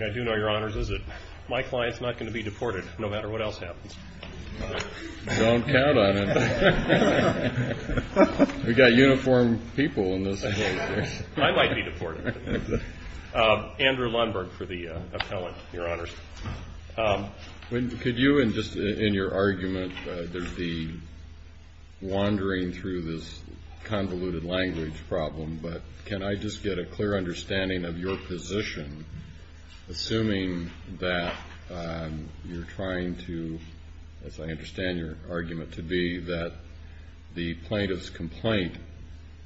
I do know, your honors, that my client is not going to be deported no matter what else happens. You don't count on it. We've got uniformed people in this. I might be deported. Andrew Lundberg for the appellant, your honors. Could you, in your argument, there's the wandering through this convoluted language problem, but can I just get a clear understanding of your position, assuming that you're trying to, as I understand your argument to be, that the plaintiff's complaint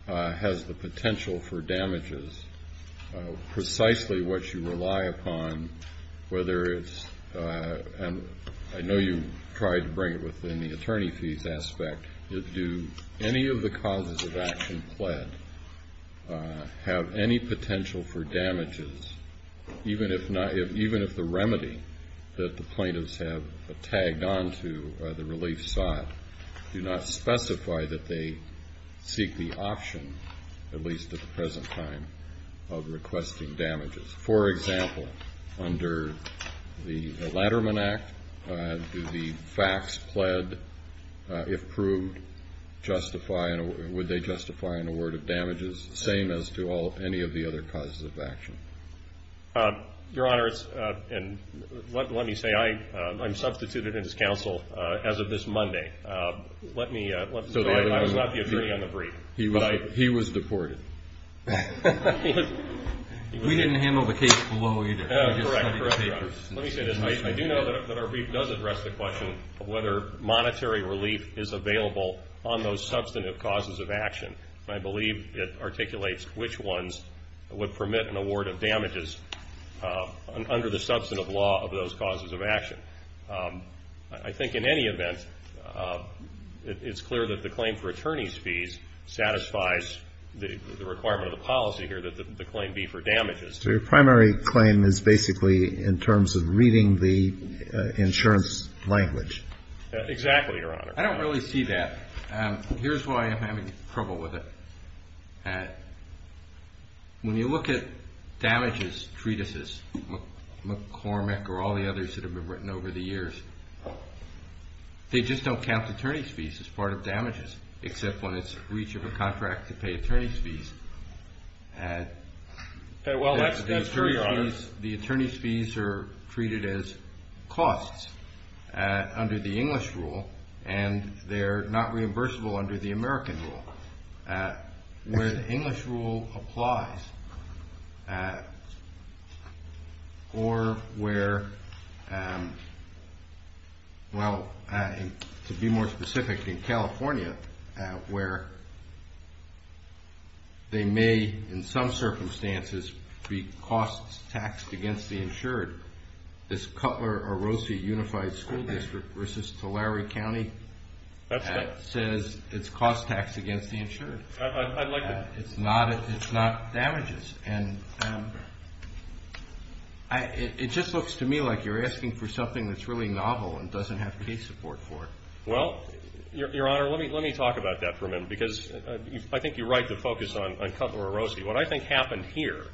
has the potential for damages, precisely what you rely upon, whether it's, and I know you tried to bring it within the attorney fees aspect, do any of the causes of action pled have any potential for damages, even if the remedy that the plaintiffs have tagged onto the relief site do not specify that they seek the option, at least at the present time, of requesting damages? For example, under the Ladderman Act, do the facts pled, if proved, justify, would they justify an award of damages, the same as to any of the other causes of action? Your honors, and let me say, I'm substituted in this counsel as of this Monday. Okay, let me, so I'll let you agree on the brief. He was deported. We didn't handle the case below either. Let me say this, Mike, I do know that our brief does address the question of whether monetary relief is available on those substantive causes of action. I believe it articulates which ones would permit an award of damages under the substantive law of those causes of action. I think in any event, it's clear that the claim for attorney's fees satisfies the requirement of the policy here, that the claim be for damages. Your primary claim is basically in terms of reading the insurance language. Exactly, your honor. I don't really see that. Here's why I'm having trouble with it. When you look at damages treatises, McCormick or all the others that have been written over the years, they just don't count attorney's fees as part of damages, except on its reach of a contract to pay attorney's fees. Well, that's true, your honor. The attorney's fees are treated as costs under the English rule, and they're not reimbursable under the American rule. Where the English rule applies, or where, well, to be more specific, in California, where they may, in some circumstances, be costs taxed against the insured, this Cutler O'Rosie Unified School District versus Tulare County says it's costs taxed against the insured. I like that. It's not damages. And it just looks to me like you're asking for something that's really novel and doesn't have pay support for it. Well, your honor, let me talk about that for a minute, because I think you're right to focus on Cutler O'Rosie. What I think happened here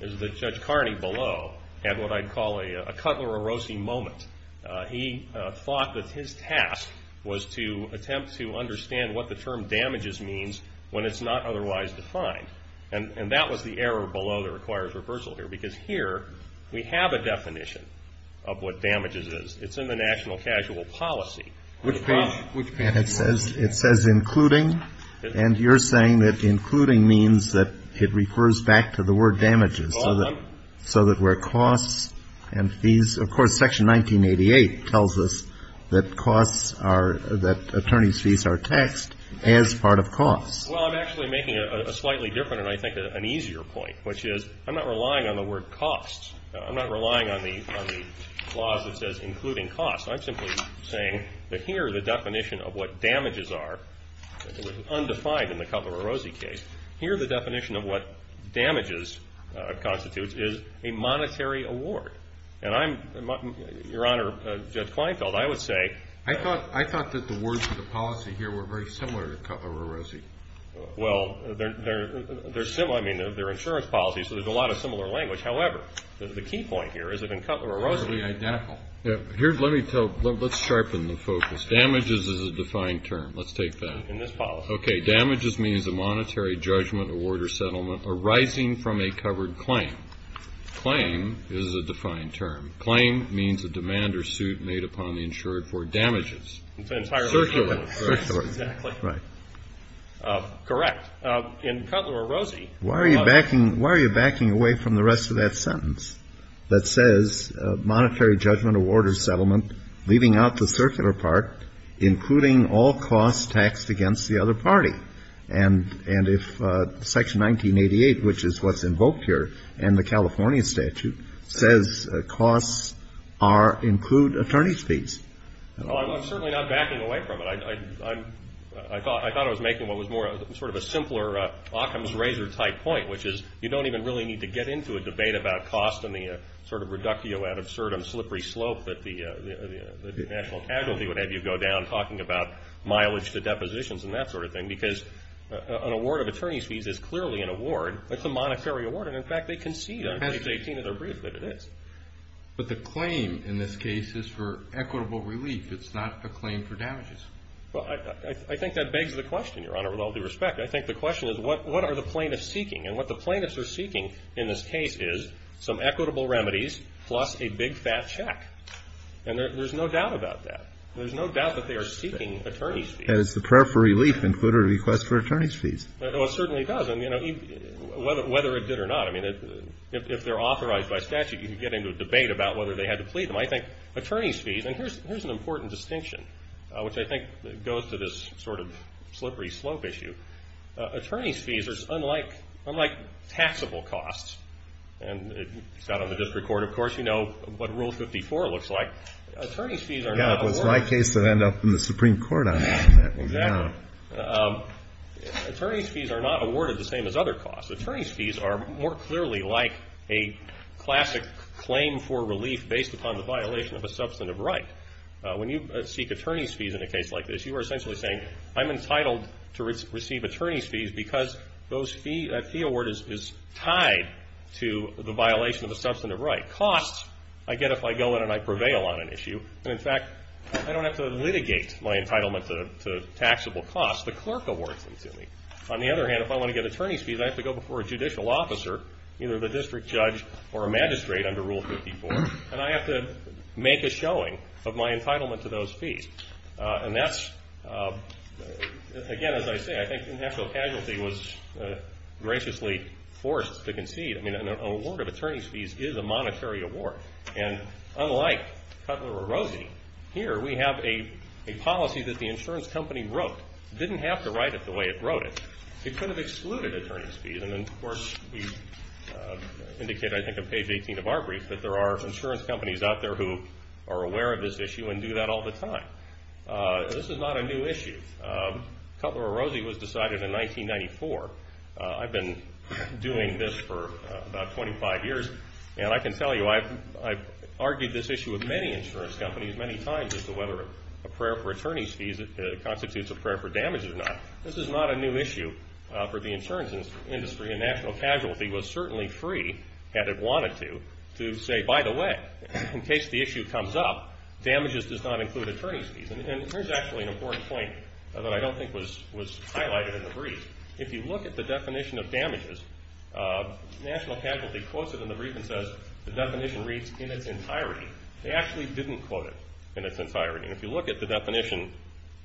is that Judge Carney below had what I'd call a Cutler O'Rosie moment. He thought that his task was to attempt to understand what the term damages means when it's not otherwise defined. And that was the error below the required reversal here, because here we have a definition of what damages is. It's in the national casual policy. It says including. And you're saying that including means that it refers back to the word damages, so that where costs and fees, of course, Section 1988 tells us that costs are, that attorney's fees are taxed as part of costs. Well, I'm actually making a slightly different and, I think, an easier point, which is I'm not relying on the word costs. I'm not relying on the clause that says including costs. I'm simply saying that here the definition of what damages are, which is undefined in the Cutler O'Rosie case, here the definition of what damages constitutes is a monetary award. And I'm, your honor, Judge Kleinfeld, I would say. I thought that the words in the policy here were very similar to Cutler O'Rosie. Well, they're similar. I mean, they're insurance policies, so there's a lot of similar language. Here, let me tell, let's sharpen the focus. Damages is a defined term. Let's take that. In this policy. Okay. Damages means a monetary judgment, award, or settlement arising from a covered claim. Claim is a defined term. Claim means a demand or suit made upon the insured for damages. Circular. Correct. In Cutler O'Rosie. Why are you backing away from the rest of that sentence that says monetary judgment, award, or settlement, leaving out the circular part, including all costs taxed against the other party? And if Section 1988, which is what's invoked here in the California statute, says costs are, include attorney's fees. Well, I'm certainly not backing away from it. I thought I was making what was more sort of a simpler Occam's razor-tight point, which is you don't even really need to get into a debate about cost and the sort of reductio ad absurdum slippery slope that the national casualty would have you go down talking about mileage to depositions and that sort of thing, because an award of attorney's fees is clearly an award. It's a monetary award, and, in fact, they concede on page 18 of their brief, but it is. But the claim in this case is for equitable relief. It's not a claim for damages. Well, I think that begs the question, Your Honor, with all due respect. I think the question is, what are the plaintiffs seeking? And what the plaintiffs are seeking in this case is some equitable remedies plus a big, fat check. And there's no doubt about that. There's no doubt that they are seeking attorney's fees. And is the prayer for relief in Cutler a request for attorney's fees? Well, it certainly does. And, you know, whether it did or not, I mean, if they're authorized by statute, you could get into a debate about whether they had to plead them. But I think attorney's fees, and here's an important distinction, which I think goes to this sort of slippery slope issue. Attorney's fees are unlike taxable costs. And it's not on the district court, of course. You know what Rule 54 looks like. Attorney's fees are not awarded. Yeah, it's like the case that ended up in the Supreme Court on that one. Exactly. Attorney's fees are not awarded the same as other costs. Attorney's fees are more clearly like a classic claim for relief based upon the violation of a substantive right. When you seek attorney's fees in a case like this, you are essentially saying, I'm entitled to receive attorney's fees because those fee award is tied to the violation of a substantive right. Costs, I get if I go in and I prevail on an issue. And, in fact, I don't have to litigate my entitlement to taxable costs. The clerk awards them to me. On the other hand, if I want to get attorney's fees, I have to go before a judicial officer, either the district judge or a magistrate under Rule 54, and I have to make a showing of my entitlement to those fees. And that's, again, as I say, I think financial casualty was graciously forced to concede. I mean, an award of attorney's fees is a monetary award. And, unlike Cutler O'Rosie, here we have a policy that the insurance company wrote. It didn't have to write it the way it wrote it. It kind of excluded attorney's fees. And, of course, we indicate, I think in page 18 of our brief, that there are insurance companies out there who are aware of this issue and do that all the time. This is not a new issue. Cutler O'Rosie was decided in 1994. I've been doing this for about 25 years. And I can tell you I've argued this issue with many insurance companies many times as to whether a prayer for attorney's fees constitutes a prayer for damages or not. This is not a new issue for the insurance industry. And national casualty was certainly free, had it wanted to, to say, by the way, in case the issue comes up, damages does not include attorney's fees. And here's actually an important point, although I don't think was highlighted in the brief. If you look at the definition of damages, national casualty quoted in the brief and says the definition reads in its entirety. They actually didn't quote it in its entirety. If you look at the definition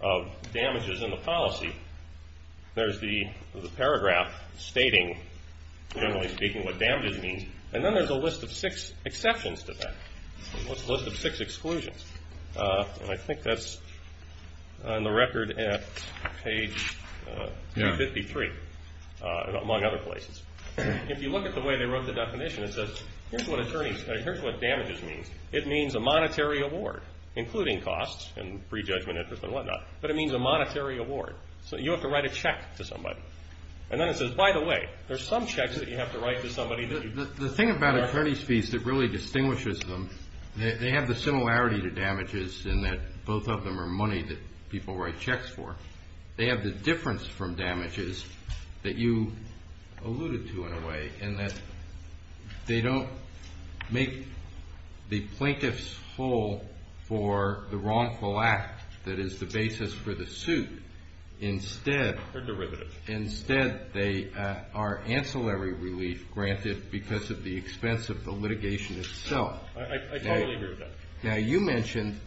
of damages in the policy, there's the paragraph stating, generally speaking, what damages means. And then there's a list of six exceptions to that, a list of six exclusions. And I think that's on the record at page 53, among other places. If you look at the way they wrote the definition, it says, here's what damages means. It means a monetary award, including costs and prejudgment interest and whatnot. But it means a monetary award. So you have to write a check to somebody. And then it says, by the way, there's some checks that you have to write to somebody. The thing about attorney's fees that really distinguishes them, they have the similarity to damages in that both of them are money that people write checks for. They have the difference from damages that you alluded to, in a way, in that they don't make the plaintiffs whole for the wrongful act that is the basis for the suit. They're derivatives. Instead, they are ancillary relief granted because of the expense of the litigation itself. I totally agree with that. Now, you mentioned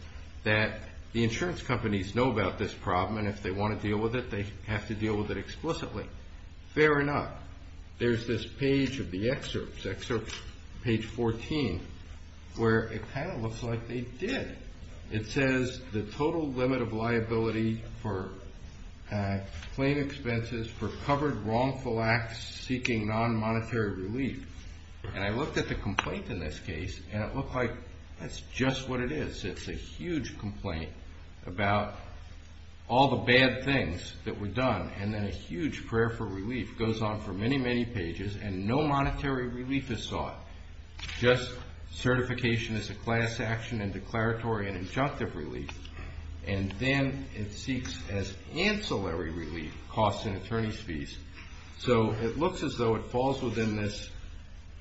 that the insurance companies know about this problem, and if they want to deal with it, they have to deal with it explicitly. Fair enough. There's this page of the excerpts, excerpt page 14, where it kind of looks like they did. It says, the total limit of liability for claim expenses for covered wrongful acts seeking non-monetary relief. And I looked at the complaint in this case, and it looked like that's just what it is. It's a huge complaint about all the bad things that were done. And then a huge prayer for relief goes on for many, many pages, and no monetary relief is sought. Just certification as a class action and declaratory and injunctive relief, and then it seeks as ancillary relief costs and attorney's fees. So it looks as though it falls within this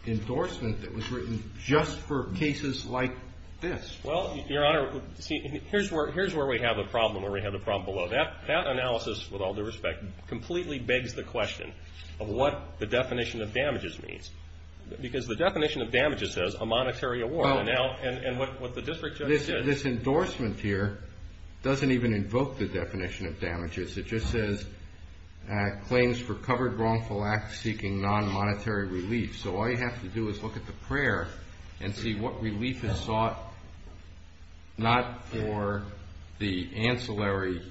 endorsement that was written just for cases like this. Well, Your Honor, here's where we have a problem or we have a problem below. That analysis, with all due respect, completely begs the question of what the definition of damages means. Because the definition of damages is a monetary award, and what the district judge says. This endorsement here doesn't even invoke the definition of damages. It just says claims for covered wrongful acts seeking non-monetary relief. So all you have to do is look at the prayer and see what relief is sought, not for the ancillary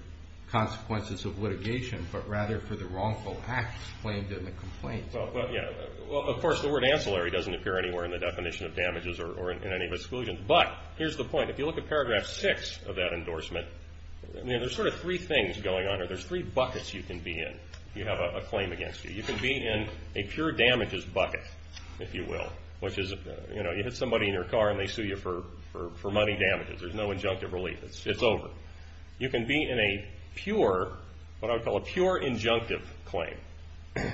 consequences of litigation, but rather for the wrongful acts claimed in the complaint. Well, of course, the word ancillary doesn't appear anywhere in the definition of damages or in any of the exclusions. But here's the point. If you look at paragraph six of that endorsement, there's sort of three things going on here. There's three buckets you can be in if you have a claim against you. You can be in a pure damages bucket, if you will, which is, you know, you hit somebody in your car and they sue you for money damages. There's no injunctive relief. It's over. You can be in a pure, what I would call a pure injunctive claim,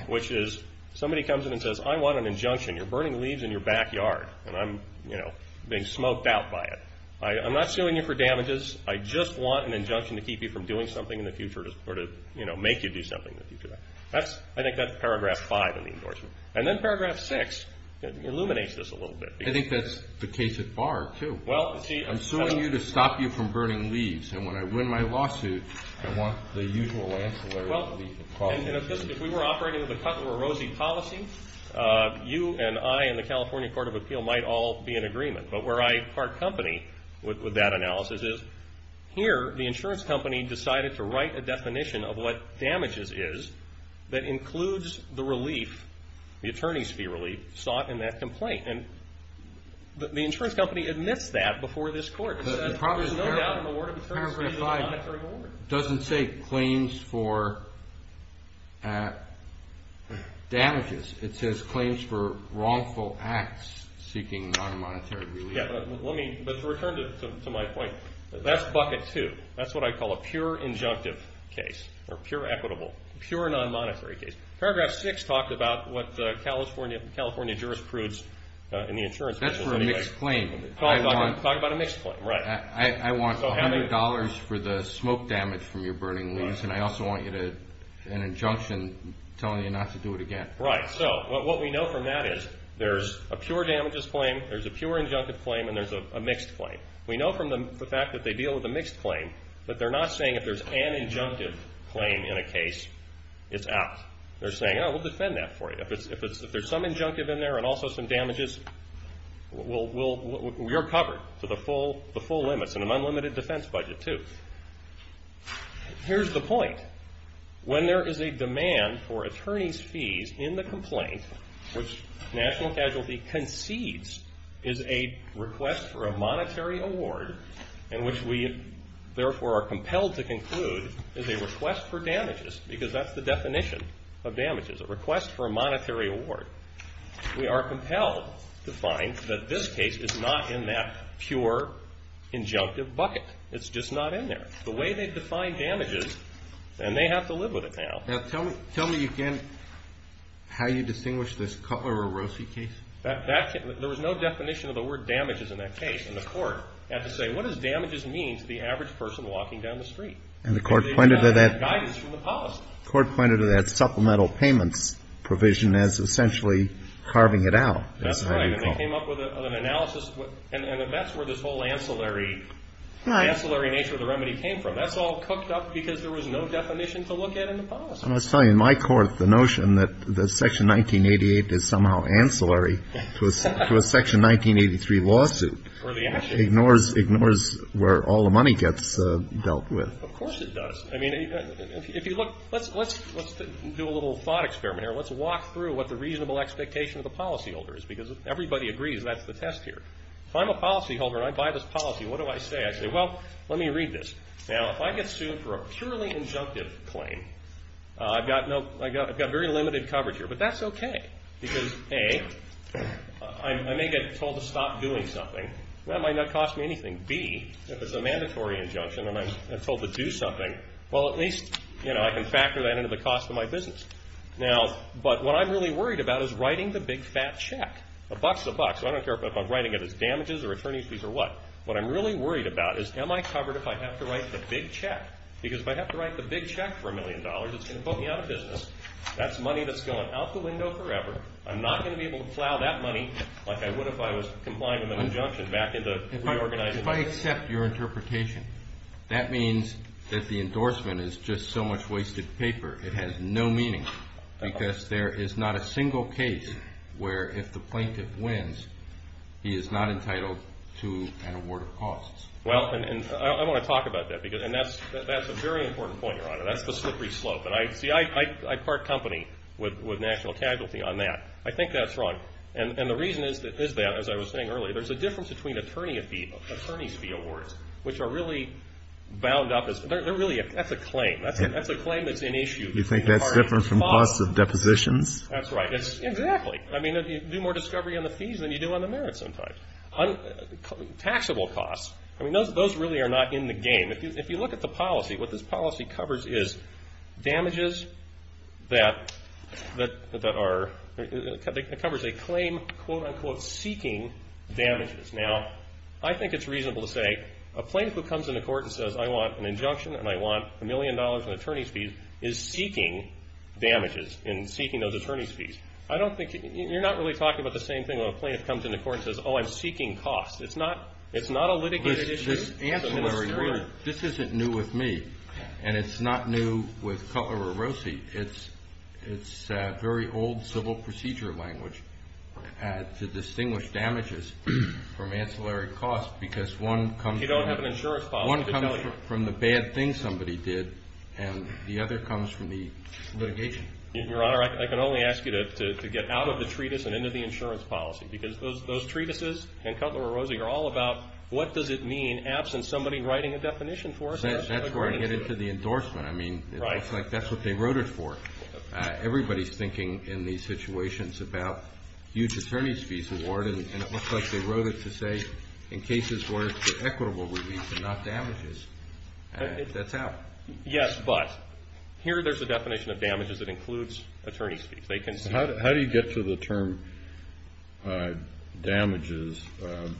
which is somebody comes in and says, I want an injunction. You're burning leaves in your backyard, and I'm, you know, being smoked out by it. I'm not suing you for damages. I just want an injunction to keep you from doing something in the future or to, you know, make you do something in the future. I think that's paragraph five in the endorsement. And then paragraph six illuminates this a little bit. I think that's the case at bar, too. I'm suing you to stop you from burning leaves. And when I win my lawsuit, I want the usual answer. If we were operating with a Cutler-Rosie policy, you and I and the California Court of Appeal might all be in agreement. But where I part company with that analysis is here, the insurance company decided to write a definition of what damages is that includes the relief, the attorney's fee relief sought in that complaint. And the insurance company admits that before this court. The problem is paragraph five doesn't say claims for damages. It says claims for wrongful acts seeking non-monetary relief. But to return to my point, that's bucket two. That's what I call a pure injunctive case or pure equitable, pure non-monetary case. Paragraph six talks about what the California jurisprudence in the insurance company says. That's for a mixed claim. Talk about a mixed claim. I want $100 for the smoke damage from your burning leaves, and I also want an injunction telling you not to do it again. Right. So what we know from that is there's a pure damages claim, there's a pure injunctive claim, and there's a mixed claim. We know from the fact that they deal with a mixed claim, but they're not saying if there's an injunctive claim in a case, it's out. They're saying, oh, we'll defend that for you. If there's some injunctive in there and also some damages, we're covered to the full limits and an unlimited defense budget, too. Here's the point. When there is a demand for attorney's fees in the complaint which national casualty concedes is a request for a monetary award and which we therefore are compelled to conclude is a request for damages because that's the definition of damages, a request for a monetary award, we are compelled to find that this case is not in that pure injunctive bucket. It's just not in there. The way they define damages, and they have to live with it now. Now, tell me again how you distinguish this Cutler-Rossi case. There was no definition of the word damages in that case, and the court had to say, what does damages mean to the average person walking down the street? And the court pointed to that supplemental payment provision as essentially carving it out. That's right. They came up with an analysis, and that's where this whole ancillary nature of the remedy came from. That's all cooked up because there was no definition to look at in the past. I'm going to tell you, in my court, the notion that Section 1988 is somehow ancillary to a Section 1983 lawsuit ignores where all the money gets dealt with. Of course it does. Let's do a little thought experiment here. Let's walk through what the reasonable expectation of the policyholder is because everybody agrees that's the test here. If I'm a policyholder and I buy this policy, what do I say? I say, well, let me read this. Now, if I get sued for a purely injunctive claim, I've got very limited coverage here. But that's okay because, A, I may get told to stop doing something. That might not cost me anything. And, B, if it's a mandatory injunction and I'm told to do something, well, at least I can factor that into the cost of my business. But what I'm really worried about is writing the big, fat check. A buck's a buck, so I don't care if I'm writing it as damages or attorney's fees or what. What I'm really worried about is, am I covered if I have to write the big check? Because if I have to write the big check for a million dollars, it's going to put me out of business. That's money that's going out the window forever. I'm not going to be able to plow that money like I would if I was complying with an injunction back into reorganizing my business. If I accept your interpretation, that means that the endorsement is just so much wasted paper. It has no meaning because there is not a single case where if the plaintiff wins, he is not entitled to an award of costs. Well, and I want to talk about that. And that's a very important point, Your Honor. That's the slippery slope. I'd part company with national casualty on that. I think that's wrong. And the reason it is that, as I was saying earlier, there's a difference between attorney's fee awards, which are really bound up as – that's a claim. That's a claim that's an issue. You think that's different from costs of depositions? That's right. Exactly. I mean, you do more discovery on the fees than you do on the merits sometimes. Taxable costs, I mean, those really are not in the game. If you look at the policy, what this policy covers is damages that are – it covers a claim, quote-unquote, seeking damages. Now, I think it's reasonable to say a plaintiff who comes into court and says, I want an injunction and I want a million dollars in attorney's fees is seeking damages and seeking those attorney's fees. I don't think – you're not really talking about the same thing when a plaintiff comes into court and says, oh, I'm seeking costs. It's not a litigation issue. This isn't new with me, and it's not new with Cutler-Rosie. It's very old civil procedure language to distinguish damages from ancillary costs because one comes from the bad thing somebody did, and the other comes from the litigation. Your Honor, I can only ask you to get out of the treatise and into the insurance policy because those treatises and Cutler-Rosie are all about what does it mean absent somebody writing a definition for us. That's where I get into the endorsement. I mean, it looks like that's what they wrote it for. Everybody's thinking in these situations about huge attorney's fees award, and it looks like they wrote it to say in cases where it's equitable relief and not damages. That's how. Yes, but here there's a definition of damages that includes attorney's fees. How do you get to the term damages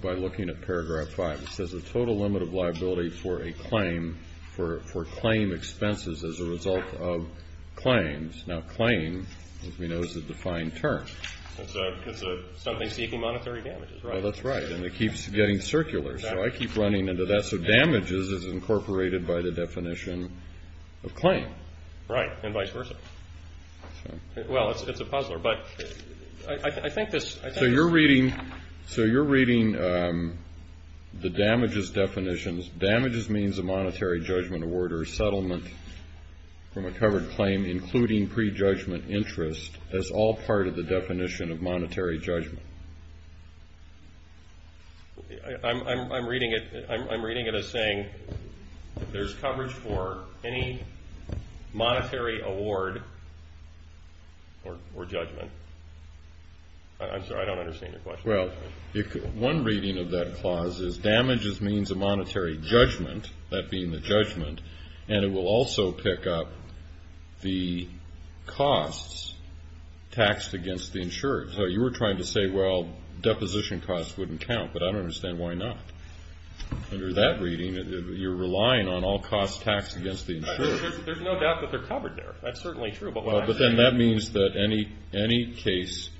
by looking at Paragraph 5? It says a total limit of liability for a claim for claim expenses as a result of claims. Now claim, as we know, is a defined term. That's something seeking monetary damages. That's right, and it keeps getting circular, so I keep running into that. So damages is incorporated by the definition of claim. Right, and vice versa. Well, it's a puzzler, but I think this. So you're reading the damages definitions. Damages means a monetary judgment award or a settlement from a covered claim, including prejudgment interest, as all part of the definition of monetary judgment. I'm reading it as saying there's coverage for any monetary award or judgment. I'm sorry, I don't understand your question. Well, one reading of that clause is damages means a monetary judgment, that being the judgment, and it will also pick up the costs taxed against the insured. You were trying to say, well, deposition costs wouldn't count, but I don't understand why not. Under that reading, you're relying on all costs taxed against the insured. There's no doubt that they're covered there. That's certainly true. But then that means that any case,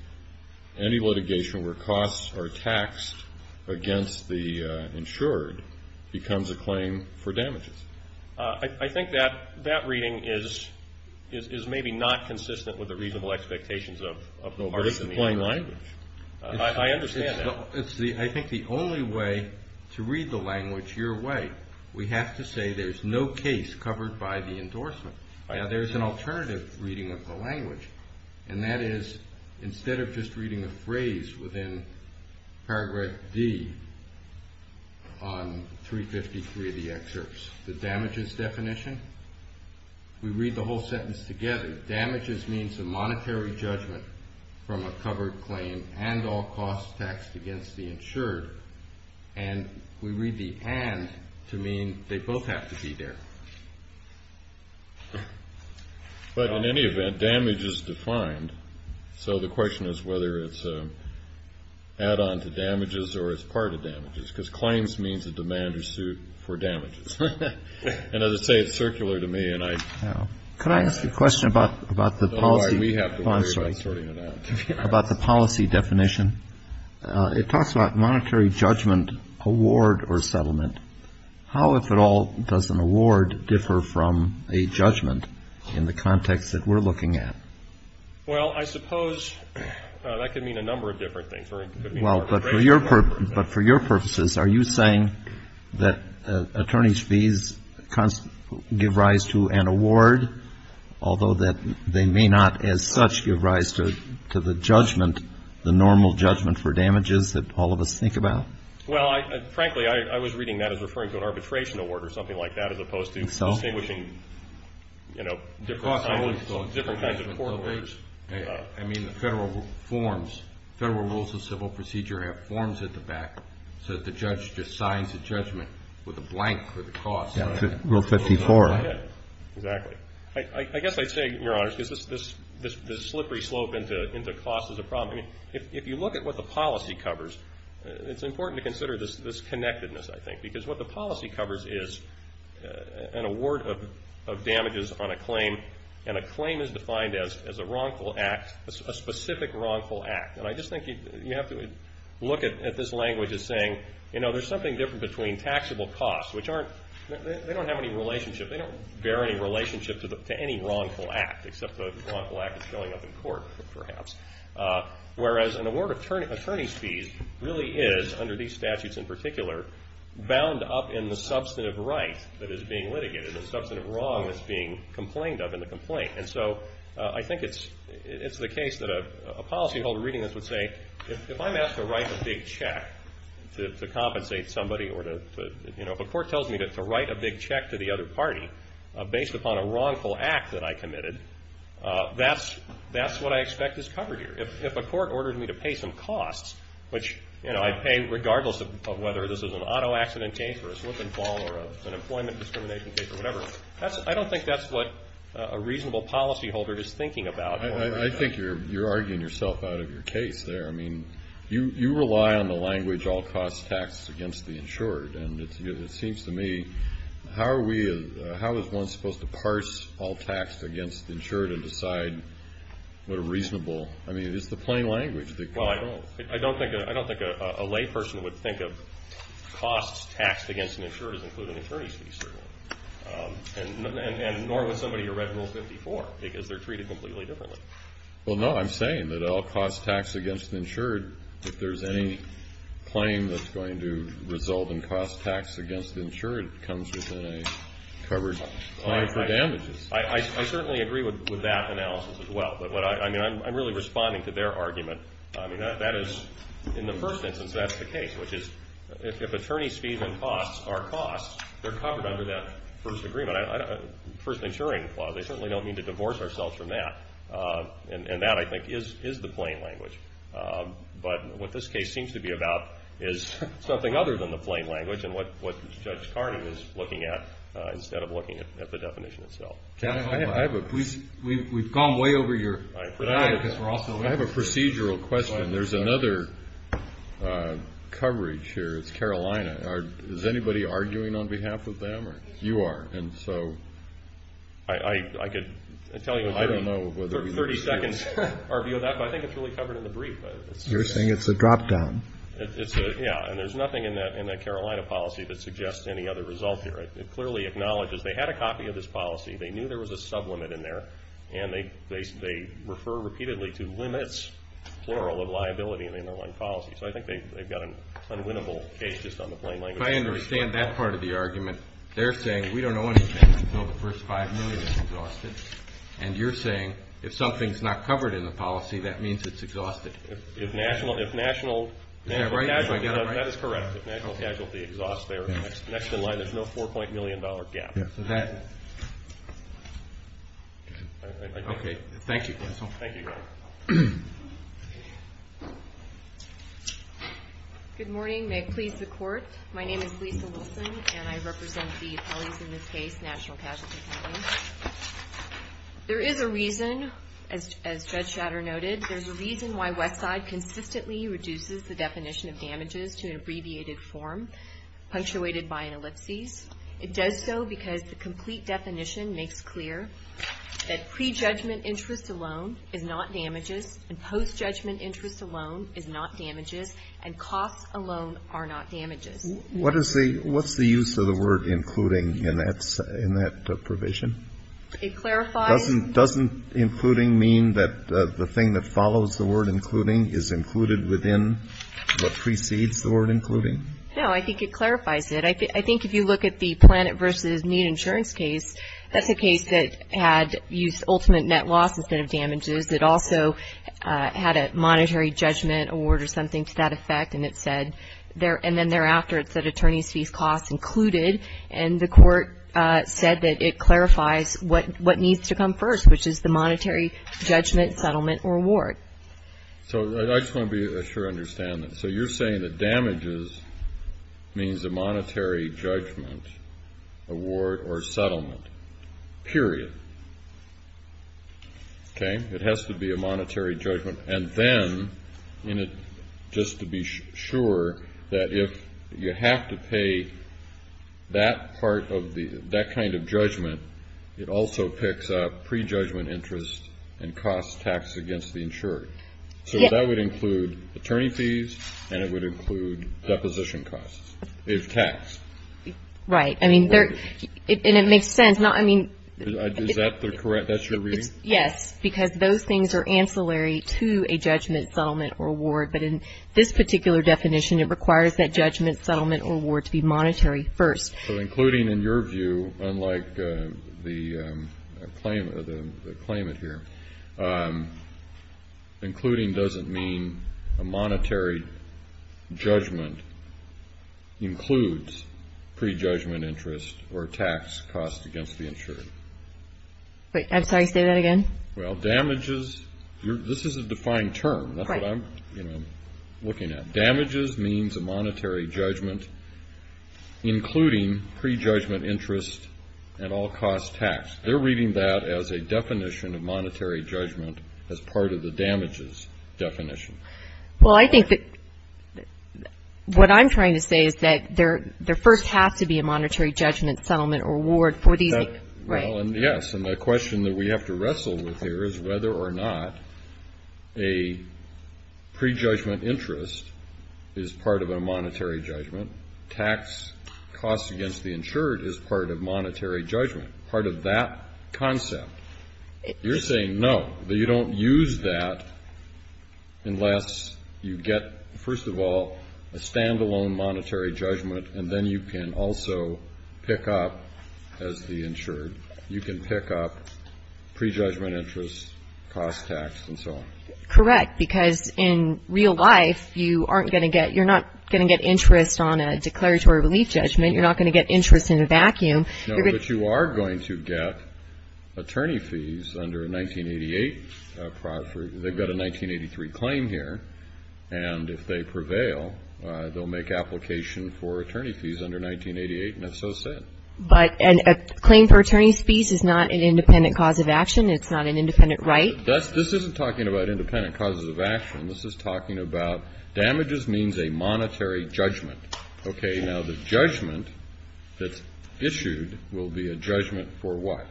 any litigation where costs are taxed against the insured becomes a claim for damages. I think that reading is maybe not consistent with the reasonable expectations of the language. I understand that. I think the only way to read the language your way, we have to say there's no case covered by the endorsement. There's an alternative reading of the language, and that is, instead of just reading a phrase within paragraph D on 353 of the excerpts, the damages definition, we read the whole sentence together. Damages means a monetary judgment from a covered claim and all costs taxed against the insured, and we read the and to mean they both have to be there. But in any event, damage is defined. So the question is whether it's an add-on to damages or it's part of damages, because claims means a demand or suit for damages. And as I say, it's circular to me. Could I ask a question about the policy definition? It talks about monetary judgment, award, or settlement. How, if at all, does an award differ from a judgment in the context that we're looking at? Well, I suppose that could mean a number of different things. But for your purposes, are you saying that attorney's fees give rise to an award, although they may not as such give rise to the judgment, the normal judgment for damages that all of us think about? Well, frankly, I was reading that as referring to an arbitration award or something like that, as opposed to distinguishing, you know, different kinds of forms. I mean the federal forms, federal rules of civil procedure have forms at the back so that the judge just signs the judgment with a blank for the cost. Rule 54. Exactly. I guess I'd say, Your Honor, this slippery slope into cost is a problem. If you look at what the policy covers, it's important to consider this connectedness, I think, because what the policy covers is an award of damages on a claim, and a claim is defined as a wrongful act, a specific wrongful act. And I just think you have to look at this language as saying, you know, there's something different between taxable costs, which aren't, they don't have any relationship, they don't bear any relationship to any wrongful act except the wrongful act that's showing up in court, perhaps. Whereas an award of attorney's fees really is, under these statutes in particular, bound up in the substantive right that is being litigated, the substantive wrong that's being complained of in the complaint. And so I think it's the case that a policyholder reading this would say, if I'm asked to write a big check to compensate somebody or to, you know, if a court tells me to write a big check to the other party based upon a wrongful act that I committed, that's what I expect is covered here. If a court ordered me to pay some costs, which, you know, I pay regardless of whether this is an auto accident case or a slip and fall or an employment discrimination case or whatever, I don't think that's what a reasonable policyholder is thinking about. I think you're arguing yourself out of your case there. I mean, you rely on the language, all costs taxed against the insured. And it seems to me, how are we, how is one supposed to parse all taxed against the insured and decide what a reasonable, I mean, it's the plain language. Well, I don't think a layperson would think of costs taxed against an insured as including attorney's fees. And nor would somebody who read Rule 54, because they're treated completely differently. Well, no, I'm saying that all costs taxed against the insured, if there's any claim that's going to result in costs taxed against the insured, it comes with a covered claim for damages. I certainly agree with that analysis as well. But, I mean, I'm really responding to their argument. I mean, that is, in the first instance, that's the case, which is, if attorney's fees and costs are costs, they're covered under that first agreement. First maturing clause, they certainly don't mean to divorce ourselves from that. And that, I think, is the plain language. But what this case seems to be about is something other than the plain language and what Judge Carney was looking at instead of looking at the definition itself. I have a procedural question. There's another coverage here, Carolina. Is anybody arguing on behalf of them? You are, and so. I could tell you, I don't know, 30 seconds, but I think it's really covered in the brief. You're saying it's a drop-down. Yeah, and there's nothing in that Carolina policy that suggests any other result here. It clearly acknowledges they had a copy of this policy. They knew there was a sublimit in there, and they refer repeatedly to limits, plural, of liability in the underlying policy. So I think they've got an unwinnable case just on the plain language. If I understand that part of the argument, they're saying we don't owe anything until the first $5 million is exhausted, and you're saying if something's not covered in the policy, that means it's exhausted. If national casualty exhaust there, next to the line, there's no $4.5 million gap. Okay, thank you, counsel. Thank you, Your Honor. Good morning. May it please the Court, my name is Lisa Wilson, and I represent the attorneys in this case, National Casualty Court. There is a reason, as Judge Shatter noted, there's a reason why Westside consistently reduces the definition of damages to an abbreviated form punctuated by an ellipsis. It does so because the complete definition makes clear that prejudgment interest alone is not damages, and post-judgment interest alone is not damages, and costs alone are not damages. What is the use of the word including in that provision? It clarifies. Doesn't including mean that the thing that follows the word including is included within what precedes the word including? No, I think it clarifies it. I think if you look at the Planet v. Mutant Insurance case, that's a case that had used ultimate net loss instead of damages. It also had a monetary judgment award or something to that effect, and it said, and then thereafter it said attorney's fees costs included, and the court said that it clarifies what needs to come first, which is the monetary judgment, settlement, or award. So I just want to be sure I understand this. So you're saying that damages means a monetary judgment, award, or settlement, period. Okay. It has to be a monetary judgment. And then, just to be sure, that if you have to pay that kind of judgment, it also picks up prejudgment interest and costs taxed against the insurer. So that would include attorney fees, and it would include deposition costs if taxed. Right. And it makes sense. Is that correct? That's your reading? Yes, because those things are ancillary to a judgment, settlement, or award, but in this particular definition it requires that judgment, settlement, or award to be monetary first. So including, in your view, unlike the claimant here, including doesn't mean a monetary judgment includes prejudgment interest or tax costs against the insurer. Sorry, say that again. Well, damages, this is a defined term. That's what I'm looking at. Damages means a monetary judgment including prejudgment interest and all costs taxed. They're reading that as a definition of monetary judgment as part of the damages definition. Well, I think that what I'm trying to say is that there first has to be a monetary judgment, settlement, or award for these. Yes, and the question that we have to wrestle with here is whether or not a prejudgment interest is part of a monetary judgment. Tax costs against the insured is part of monetary judgment. Part of that concept. You're saying no, that you don't use that unless you get, first of all, a stand-alone monetary judgment, and then you can also pick up, as the insured, you can pick up prejudgment interest, cost tax, and so on. Correct, because in real life you aren't going to get, you're not going to get interest on a declaratory relief judgment. You're not going to get interest in a vacuum. No, but you are going to get attorney fees under 1988. They've got a 1983 claim here, and if they prevail, they'll make application for attorney fees under 1988, and if so, so. But a claim for attorney's fees is not an independent cause of action. It's not an independent right. This isn't talking about independent causes of action. This is talking about damages means a monetary judgment. Okay, now the judgment that's issued will be a judgment for what?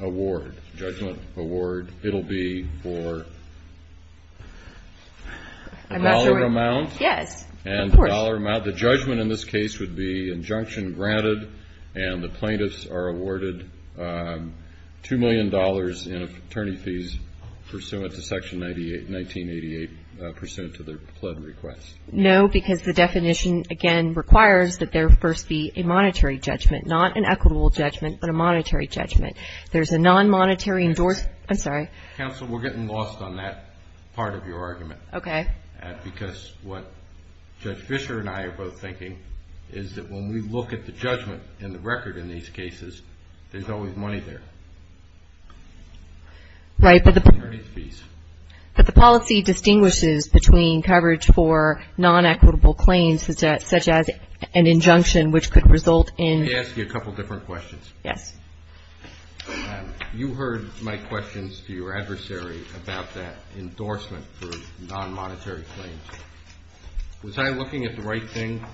Award, judgment, award. It'll be for dollar amount. Yes, of course. And dollar amount. The judgment in this case would be injunction granted, and the plaintiffs are awarded $2 million in attorney fees pursuant to Section 1988, pursuant to their pled request. No, because the definition, again, requires that there first be a monetary judgment, not an equitable judgment, but a monetary judgment. There's a non-monetary endorsement, I'm sorry. Counsel, we're getting lost on that part of your argument. Okay. Because what Judge Fischer and I are both thinking is that when we look at the judgment in the record in these cases, there's always money there. Right, but the policy distinguishes between coverage for non-equitable claims such as an injunction which could result in... Let me ask you a couple different questions. Yes. You heard my questions to your adversary about that endorsement for non-monetary claims. Was I looking at the right thing?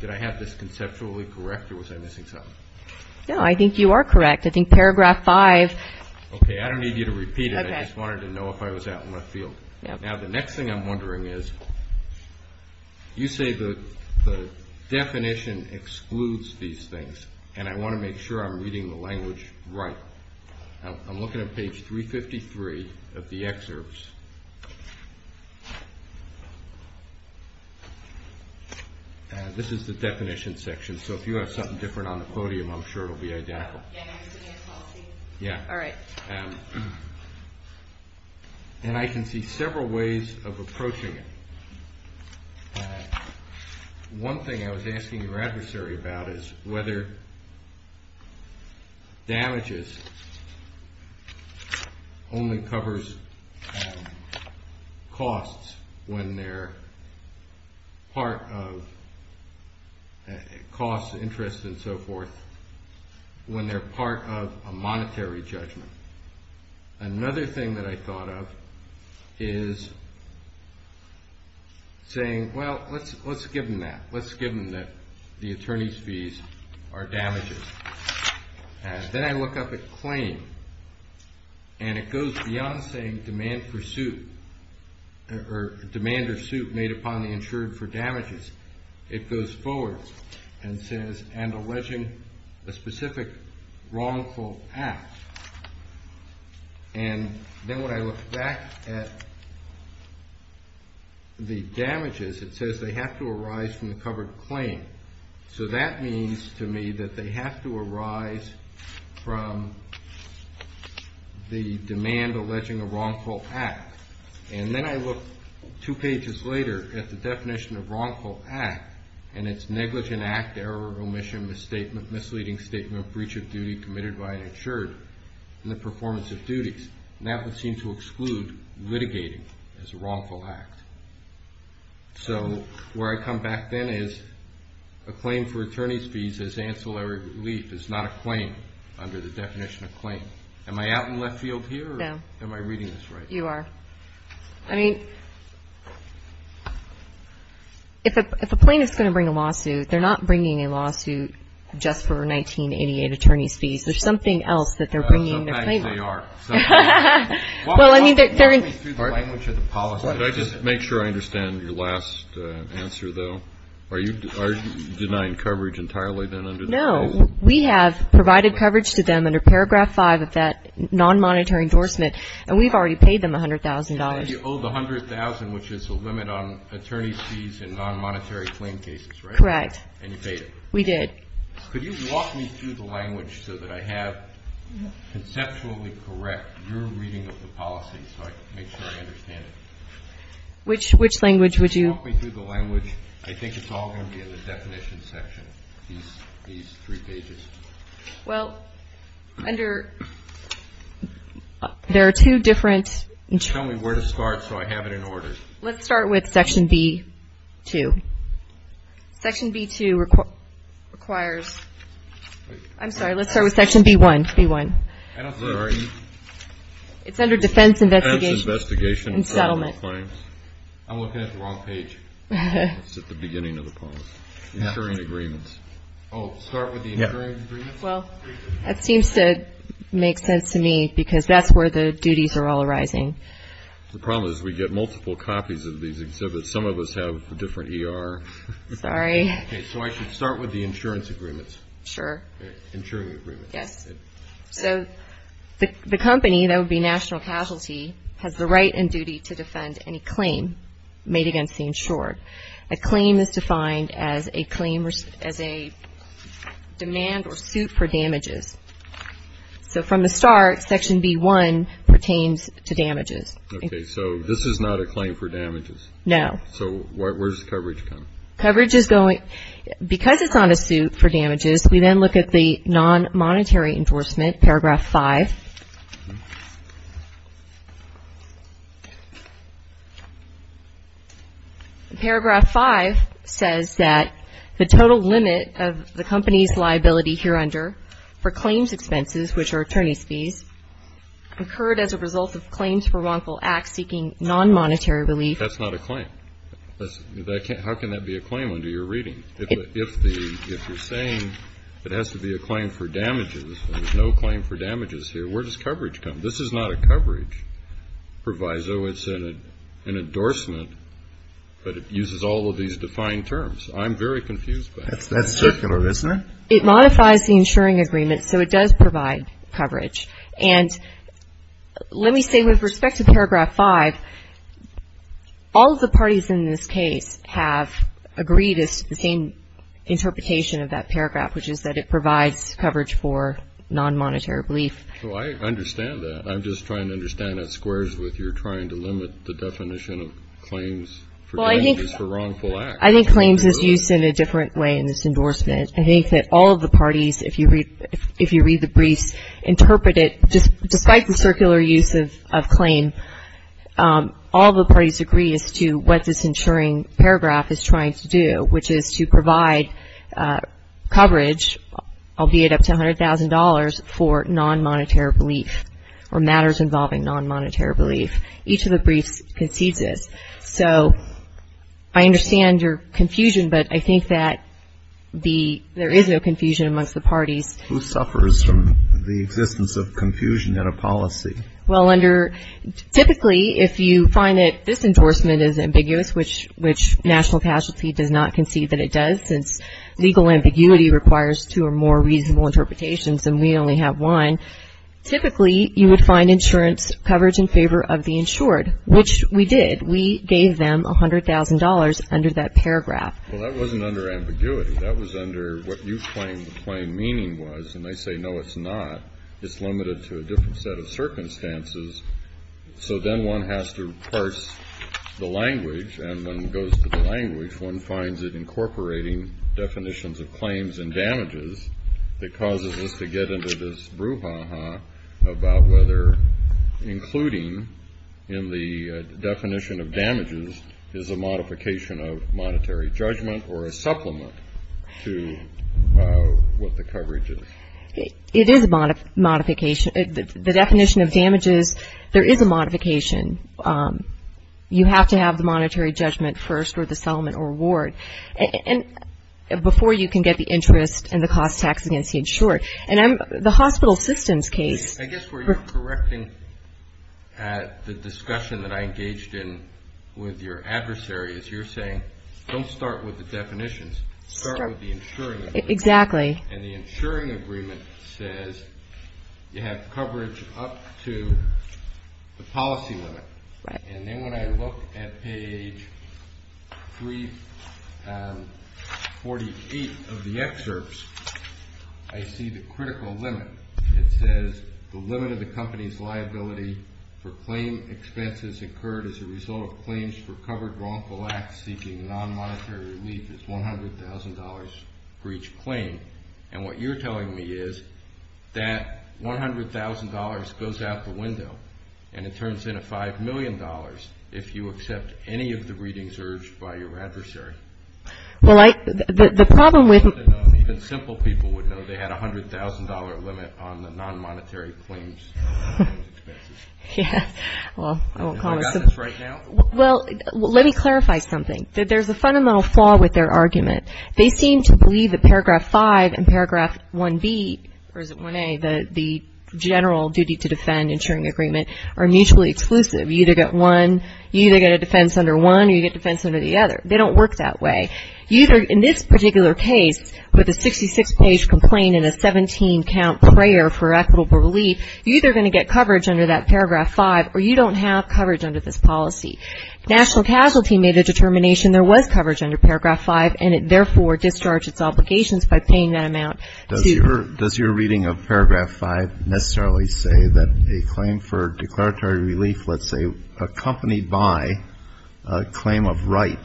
Did I have this conceptually correct, or was I missing something? No, I think you are correct. I think Paragraph 5... Okay, I don't need you to repeat it. I just wanted to know if I was out in my field. Now, the next thing I'm wondering is, you say the definition excludes these things, and I want to make sure I'm reading the language right. I'm looking at page 353 of the excerpts. This is the definition section, so if you have something different on the podium, I'm sure it'll be identical. Yeah, all right. And I can see several ways of approaching it. One thing I was asking your adversary about is whether damages only covers costs when they're part of... Another thing that I thought of is saying, well, let's give them that. Let's give them that the attorney's fees are damages. And then I look up a claim, and it goes beyond saying demand pursuit, or demand pursuit made upon the insurer for damages. It goes forward and says, and alleging a specific wrongful act. And then when I look back at the damages, it says they have to arise from the covered claim. So that means to me that they have to arise from the demand alleging a wrongful act. And then I look two pages later at the definition of wrongful act, and it's negligent act, error, omission, misstatement, misleading statement, breach of duty committed by an insurer, and the performance of duties. And that would seem to exclude litigating as a wrongful act. So where I come back then is a claim for attorney's fees as ancillary relief is not a claim under the definition of claim. Am I out in left field here, or am I reading this right? You are. I mean, if a plaintiff's going to bring a lawsuit, they're not bringing a lawsuit just for 1988 attorney's fees. There's something else that they're bringing. Sometimes they are. Well, I mean, they're in the language of the policy. Did I just make sure I understand your last answer, though? Are you denying coverage entirely then under this? No. We have provided coverage to them under Paragraph 5 of that non-monetary endorsement, and we've already paid them $100,000. So you owe the $100,000, which is a limit on attorney's fees in non-monetary claim cases, right? Correct. And you paid it. We did. Could you walk me through the language so that I have conceptually correct your reading of the policy so I can make sure I understand it? Which language would you? Walk me through the language. I think it's all going to be in the definition section, these three pages. Well, under – there are two different – Tell me where to start so I have it in order. Let's start with Section B-2. Section B-2 requires – I'm sorry, let's start with Section B-1, C-1. I'm sorry. It's under Defense Investigation and Settlement. Elephant, wrong page. It's at the beginning of the point. Insurance agreements. Oh, start with the insurance agreements? Well, that seems to make sense to me because that's where the duties are all arising. The problem is we get multiple copies of these exhibits. Some of us have different ER. Sorry. Okay, so I should start with the insurance agreements. Sure. Insurance agreements. Yes. The company, that would be national casualty, has the right and duty to defend any claim made against the insurer. A claim is defined as a demand or suit for damages. So from the start, Section B-1 pertains to damages. Okay, so this is not a claim for damages? No. So where does coverage come from? Because it's not a suit for damages, we then look at the non-monetary enforcement, Paragraph 5. Paragraph 5 says that the total limit of the company's liability here under for claims expenses, which are attorney's fees, occurred as a result of claims for wrongful acts seeking non-monetary relief. That's not a claim. How can that be a claim under your reading? If you're saying it has to be a claim for damages and there's no claim for damages here, where does coverage come? This is not a coverage proviso. It's an endorsement, but it uses all of these defined terms. I'm very confused by that. That's secular, isn't it? It modifies the insuring agreement, so it does provide coverage. And let me say, with respect to Paragraph 5, all of the parties in this case have agreed it's the same interpretation of that paragraph, which is that it provides coverage for non-monetary relief. I understand that. I'm just trying to understand that squares with your trying to limit the definition of claims for damages for wrongful acts. I think claims is used in a different way in this endorsement. I think that all of the parties, if you read the brief, interpret it, despite the circular use of claims, all of the parties agree as to what this insuring paragraph is trying to do, which is to provide coverage, albeit up to $100,000, for non-monetary relief or matters involving non-monetary relief. Each of the briefs concedes it. So, I understand your confusion, but I think that there is no confusion amongst the parties. Who suffers from the existence of confusion in a policy? Well, typically, if you find that this endorsement is ambiguous, which National Casualty does not concede that it does, since legal ambiguity requires two or more reasonable interpretations and we only have one, typically, you would find insurance coverage in favor of the insured, which we did. We gave them $100,000 under that paragraph. Well, that wasn't under ambiguity. That was under what you claimed the plain meaning was, and they say, no, it's not. It's limited to a different set of circumstances, so then one has to parse the language, and when it goes to the language, one finds it incorporating definitions of claims and damages. It causes us to get into this brouhaha about whether including in the definition of damages is a modification of monetary judgment or a supplement to what the coverage is. It is a modification. The definition of damages, there is a modification. You have to have the monetary judgment first or the supplement or reward. Before you can get the interest and the cost tax against the insured. The hospital systems case... I guess we're correcting at the discussion that I engaged in with your adversaries. You're saying, don't start with the definitions. Start with the insuring agreement. And the insuring agreement says you have coverage up to the policy limit. And then when I look at page 348 of the excerpts, I see the critical limit. It says the limit of the company's liability for claim expenses incurred as a result of claims for covered wrongful acts seeking non-monetary relief is $100,000 for each claim. And what you're telling me is that $100,000 goes out the window and it turns into $5 million if you accept any of the readings urged by your adversary. Well, the problem with... Even simple people would know they had a $100,000 limit on the non-monetary claims. Yeah. Well, I won't comment. I've got this right now. Well, let me clarify something. There's a fundamental flaw with their argument. They seem to believe that Paragraph 5 and Paragraph 1B, or is it 1A, the general duty to defend insuring agreement, are mutually exclusive. You either get defense under one or you get defense under the other. They don't work that way. In this particular case, with a 66-page complaint and a 17-count prayer for equitable relief, you're either going to get coverage under that Paragraph 5 or you don't have coverage under this policy. National Casualty made a determination there was coverage under Paragraph 5 and it therefore discharged its obligations by paying that amount. Does your reading of Paragraph 5 necessarily say that a claim for declaratory relief, let's say, accompanied by a claim of right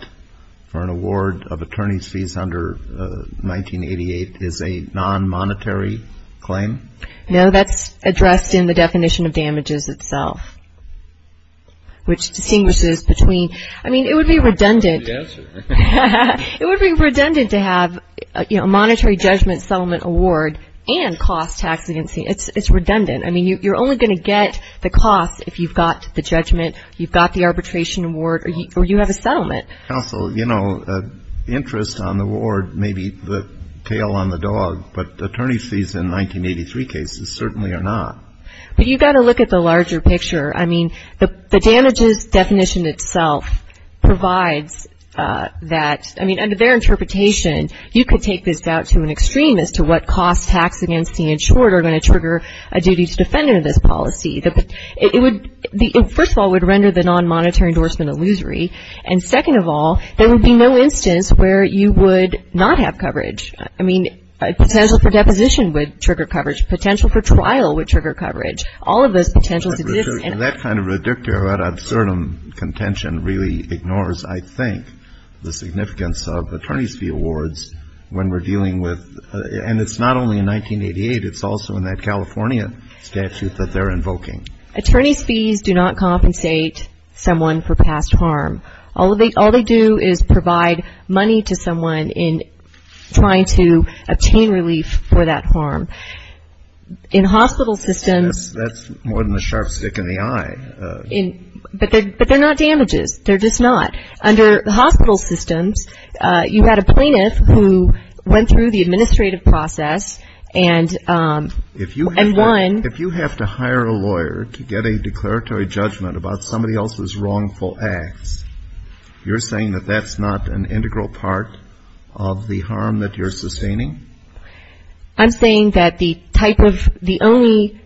for an award of attorney's fees under 1988 is a non-monetary claim? No, that's addressed in the definition of damages itself, which distinguishes between... I mean, it would be redundant. Good answer. It would be redundant to have a monetary judgment settlement award and cost tax evidency. It's redundant. I mean, you're only going to get the cost if you've got the judgment, you've got the arbitration award, or you have a settlement. Counsel, you know, interest on the award may be the tail on the dog, but attorney's fees in 1983 cases certainly are not. But you've got to look at the larger picture. I mean, the damages definition itself provides that. I mean, under their interpretation, you could take this out to an extreme as to what cost tax against the insured are going to trigger a duty to defendant of this policy. First of all, it would render the non-monetary endorsement illusory. And second of all, there would be no instance where you would not have coverage. I mean, potential for deposition would trigger coverage. Potential for trial would trigger coverage. All of those potentials exist. That kind of reductio ad absurdum contention really ignores, I think, the significance of attorney's fee awards when we're dealing with, and it's not only in 1988, it's also in that California statute that they're invoking. Attorney's fees do not compensate someone for past harm. All they do is provide money to someone in trying to obtain relief for that harm. In hospital systems. And that's more than a sharp stick in the eye. But they're not damages. They're just not. Under hospital systems, you've got a plaintiff who went through the administrative process and won. If you have to hire a lawyer to get a declaratory judgment about somebody else's wrongful acts, you're saying that that's not an integral part of the harm that you're sustaining? I'm saying that the type of the only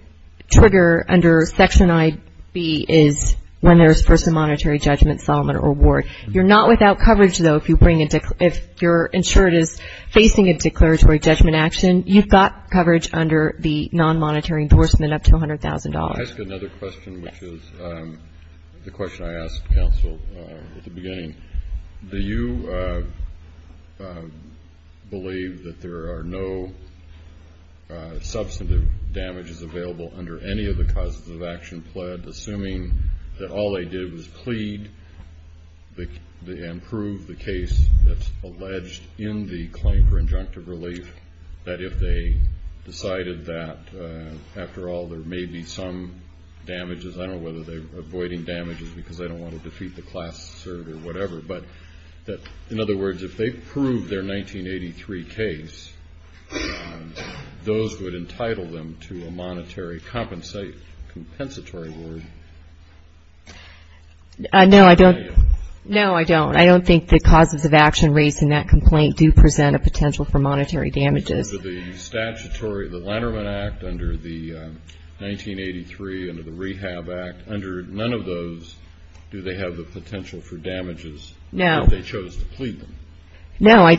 trigger under Section I.B. is when there's personal monetary judgment, solemn or award. You're not without coverage, though, if you're insured as facing a declaratory judgment action. You've got coverage under the non-monetary endorsement up to $100,000. I have another question, which is the question I asked counsel at the beginning. Do you believe that there are no substantive damages available under any of the causes of action pledged, assuming that all they did was plead and prove the case that's alleged in the claim for injunctive relief, that if they decided that, after all, there may be some damages, I don't know whether they were avoiding damages because they don't want to defeat the class to serve or whatever, but that, in other words, if they proved their 1983 case, those would entitle them to a monetary compensatory award? No, I don't. No, I don't. I don't think the causes of action rates in that complaint do present a potential for monetary damages. Under the statutory, the Lannerman Act, under the 1983, under the Rehab Act, under none of those do they have the potential for damages if they chose to plead? No.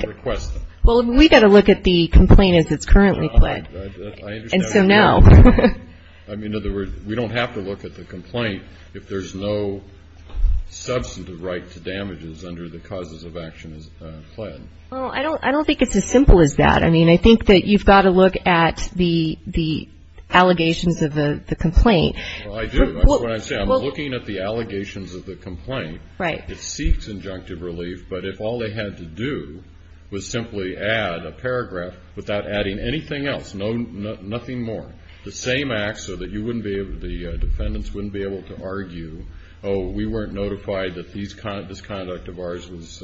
Well, we've got to look at the complaint as it's currently pledged. And so, no. I mean, in other words, we don't have to look at the complaint if there's no substantive right to damages under the causes of action pled. Well, I don't think it's as simple as that. I mean, I think that you've got to look at the allegations of the complaint. Well, I do. That's what I'm saying. We're looking at the allegations of the complaint. Right. It seeks injunctive relief, but if all they had to do was simply add a paragraph without adding anything else, nothing more, the same act so that the defendants wouldn't be able to argue, oh, we weren't notified that this conduct of ours was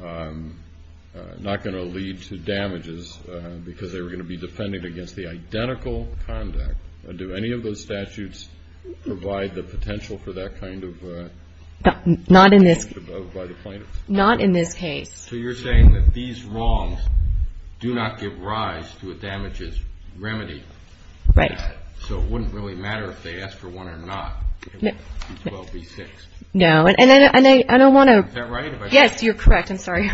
not going to lead to damages because they were going to be defending against the identical conduct. Do any of those statutes provide the potential for that kind of damage above by the plaintiff? Not in this case. So you're saying that these wrongs do not give rise to a damages remedy. Right. So it wouldn't really matter if they asked for one or not. No. And I don't want to- Is that right? Yes, you're correct. I'm sorry.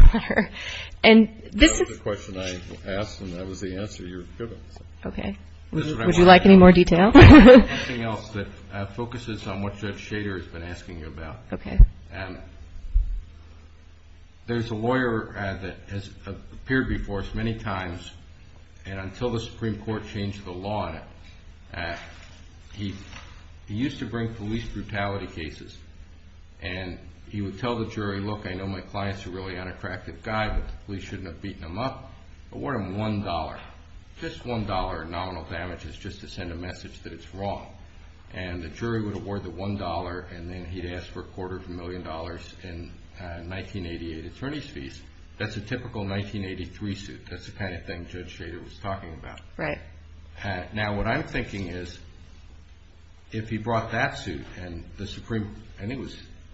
And this is- That was the question I asked, and that was the answer you're giving. Okay. Would you like any more detail? Anything else that focuses on what Judge Shader has been asking you about. Okay. There's a lawyer that has appeared before us many times, and until the Supreme Court changed the law, he used to bring police brutality cases, and he would tell the jury, look, I know my clients are really unattractive guys, but the police shouldn't have beaten them up, award them $1. Just $1 in nominal damages just to send a message that it's wrong. And the jury would award the $1, and then he'd ask for a quarter of a million dollars in 1988 attorney's fees. That's a typical 1983 suit. That's the kind of thing Judge Shader was talking about. Right. Now, what I'm thinking is, if he brought that suit, and the Supreme Court, and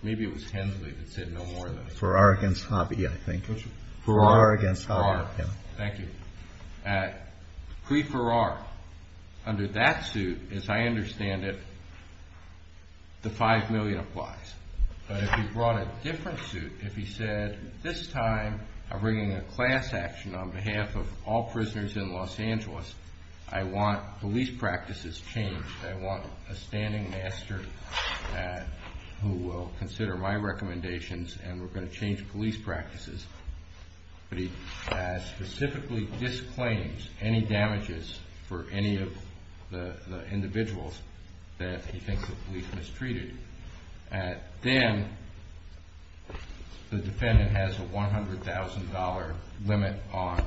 maybe it was Hensley that said no more of those. Farrar against Hobby, I think. Farrar against Hobby. Thank you. Free Farrar. Under that suit, as I understand it, the $5 million applies. But if he brought a different suit, if he said, this time I'm bringing a class action on behalf of all prisoners in Los Angeles, I want police practices changed. I want a standing master who will consider my recommendations, and we're going to change police practices. If he specifically disclaims any damages for any of the individuals that he thinks the police mistreated, then the defendant has a $100,000 limit on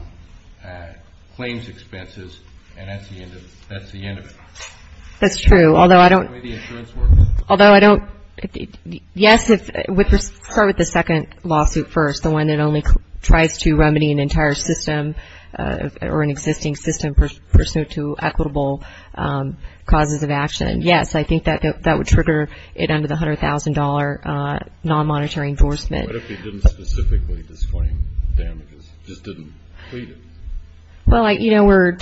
claims expenses, and that's the end of it. That's true. Although I don't. The way the insurance works. Although I don't. Yes, let's start with the second lawsuit first, the one that only tries to remedy an entire system, or an existing system, pursuant to equitable causes of action. Yes, I think that would trigger it under the $100,000 non-monetary endorsement. What if he didn't specifically disclaim damages, just didn't plead it? Well, you know, we're,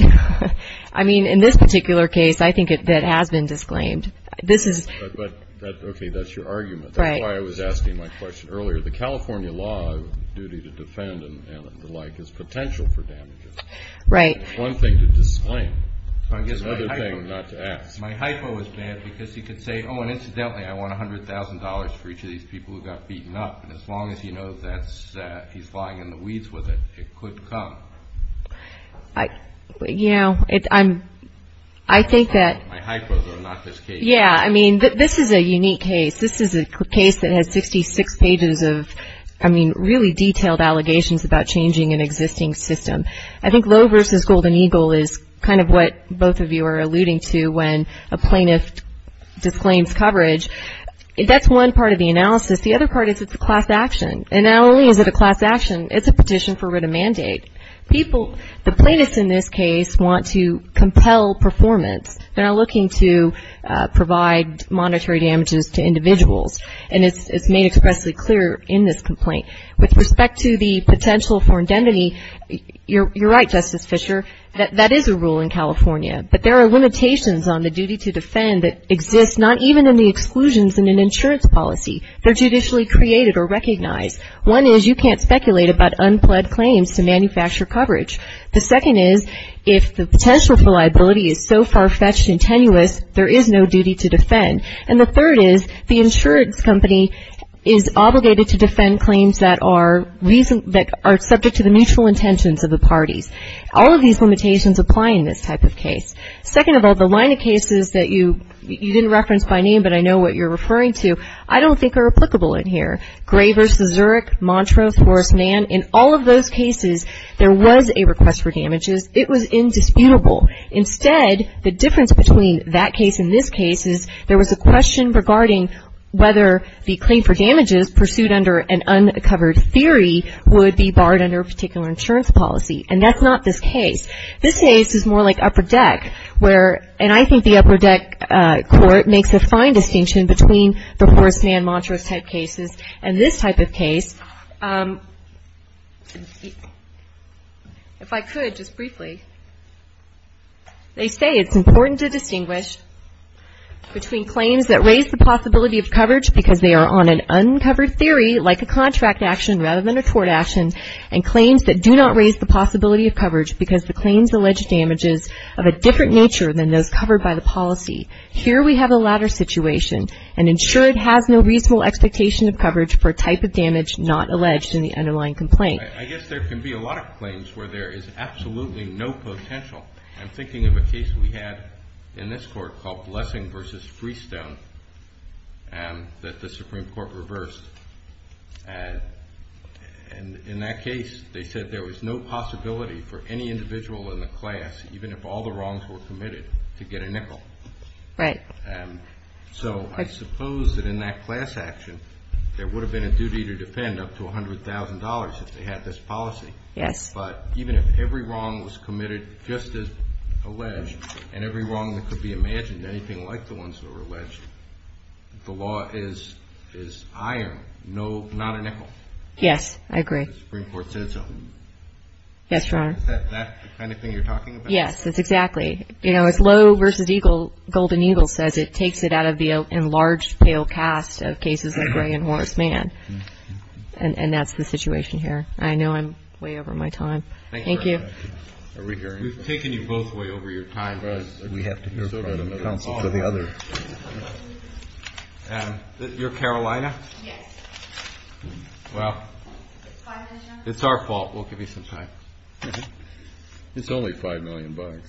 I mean, in this particular case, I think it has been disclaimed. This is. Okay, that's your argument. Right. That's why I was asking my question earlier. The California law duty to defend and the like has potential for damages. Right. One thing to disclaim, another thing not to act. My hypo was there because he could say, oh, and incidentally, I want $100,000 for each of these people who got beaten up. As long as he knows that he's flying in the weeds with it, it could come. You know, I think that. My hypo, though, not this case. Yeah, I mean, this is a unique case. This is a case that has 56 pages of, I mean, really detailed allegations about changing an existing system. I think Lowe versus Golden Eagle is kind of what both of you are alluding to when a plaintiff disclaims coverage. That's one part of the analysis. The other part is it's a class action. And not only is it a class action, it's a petition for writ of mandate. People, the plaintiffs in this case, want to compel performance. They're looking to provide monetary damages to individuals. And it's made expressly clear in this complaint. With respect to the potential for indemnity, you're right, Justice Fischer, that that is a rule in California. But there are limitations on the duty to defend that exist not even in the exclusions in an insurance policy. They're judicially created or recognized. One is you can't speculate about unpled claims to manufacture coverage. The second is if the potential for liability is so far-fetched and tenuous, there is no duty to defend. And the third is the insurance company is obligated to defend claims that are subject to the mutual intentions of the parties. All of these limitations apply in this type of case. Second of all, the line of cases that you didn't reference by name, but I know what you're referring to, I don't think are applicable in here. Gray versus Zurich, Montrose versus Mann, in all of those cases, there was a request for damages. It was indisputable. Instead, the difference between that case and this case is there was a question regarding whether the claim for damages pursued under an uncovered theory would be barred under a particular insurance policy. And that's not this case. This case is more like upper deck, where, and I think the upper deck court makes a fine distinction between the Horstmann and Montrose type cases and this type of case. Okay. If I could, just briefly, they say it's important to distinguish between claims that raise the possibility of coverage because they are on an uncovered theory, like a contract action rather than a court action, and claims that do not raise the possibility of coverage because the claims allege damages of a different nature than those covered by the policy. Here we have a latter situation, and ensure it has no reasonable expectation of coverage for a type of damage not alleged in the underlying complaint. I guess there can be a lot of claims where there is absolutely no potential. I'm thinking of a case we had in this court called Lessing versus Freestone, and that the Supreme Court reversed. And in that case, they said there was no possibility for any individual in the class, even if all the wrongs were committed, to get a nickel. Right. So I suppose that in that class action, there would have been a duty to defend up to $100,000 if they had this policy. Yes. But even if every wrong was committed just as alleged, and every wrong that could be imagined, anything like the ones that were alleged, the law is iron, not a nickel. Yes, I agree. The Supreme Court says so. That's right. Is that the kind of thing you're talking about? Yes, exactly. If Lowe versus Golden Eagle says it, it takes it out of the enlarged pale cast of cases like Gray and Horace Mann. And that's the situation here. I know I'm way over my time. Thank you. We've taken you both way over your time. We have to move from one council to the other. You're Carolina? Yes. Well, it's our fault. We'll give you some time. It's only $5 million.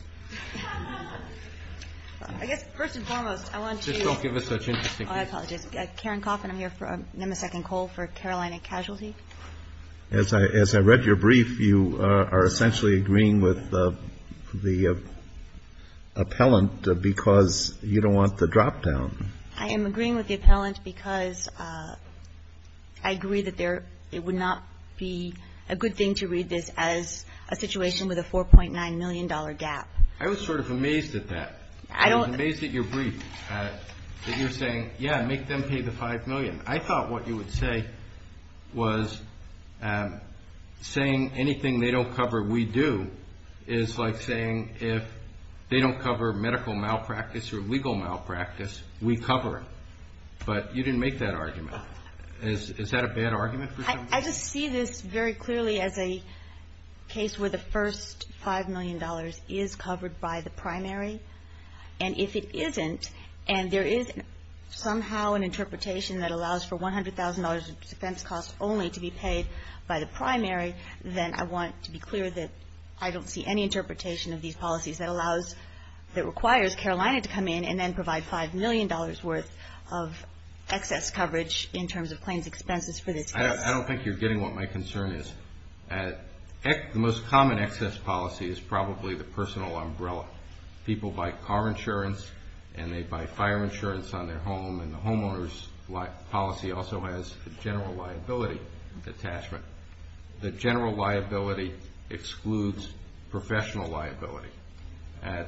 I guess first and foremost, I want to- Just don't give us such interesting- Oh, I apologize. I'm Karen Kaufman. I'm here for a second call for Carolina Casualty. As I read your brief, you are essentially agreeing with the appellant because you don't want the drop-down. I am agreeing with the appellant because I agree that it would not be a good thing to read this as a situation with a $4.9 million gap. I was sort of amazed at that. I was amazed at your brief, that you're saying, yeah, make them pay the $5 million. I thought what you would say was saying anything they don't cover, we do, is like saying if they don't cover medical malpractice or legal malpractice, we cover it. But you didn't make that argument. Is that a bad argument? I just see this very clearly as a case where the first $5 million is covered by the primary. And if it isn't, and there is somehow an interpretation that allows for $100,000 of defense costs only to be paid by the primary, then I want to be clear that I don't see any interpretation of these policies that allows, that requires Carolina to come in and then provide $5 million worth of excess coverage in terms of claims expenses for this case. I don't think you're getting what my concern is. The most common excess policy is probably the personal umbrella. People buy car insurance and they buy fire insurance on their home, and the homeowner's policy also has the general liability attachment. The general liability excludes professional liability.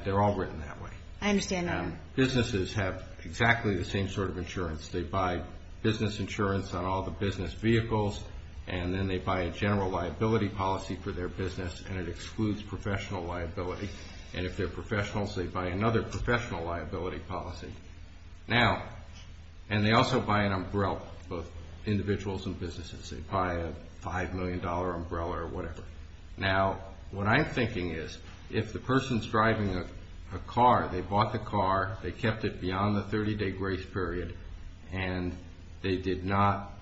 They're all written that way. I understand that. Businesses have exactly the same sort of insurance. They buy business insurance on all the business vehicles, and then they buy a general liability policy for their business, and it excludes professional liability. And if they're professionals, they buy another professional liability policy. Now, and they also buy an umbrella for individuals and businesses. They buy a $5 million umbrella or whatever. Now, what I'm thinking is if the person's driving a car, they bought the car, they kept it beyond the 30-day grace period, and they did not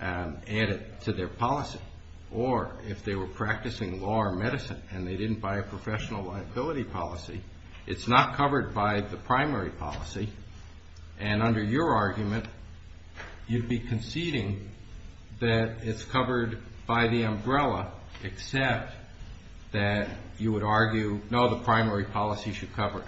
add it to their policy, or if they were practicing law or medicine and they didn't buy a professional liability policy, it's not covered by the primary policy. And under your argument, you'd be conceding that it's covered by the umbrella, except that you would argue, no, the primary policy should cover it.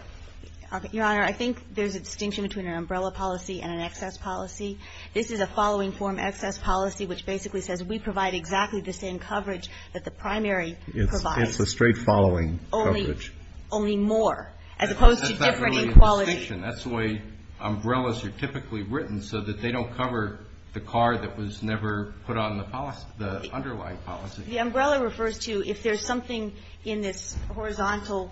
Your Honor, I think there's a distinction between an umbrella policy and an excess policy. This is a following-form excess policy, which basically says we provide exactly the same coverage that the primary provides. It's a straight-following coverage. Only more, as opposed to different qualities. That's not really the distinction. That's the way umbrellas are typically written, so that they don't cover the car that was never put on the policy, the underlying policy. The umbrella refers to if there's something in this horizontal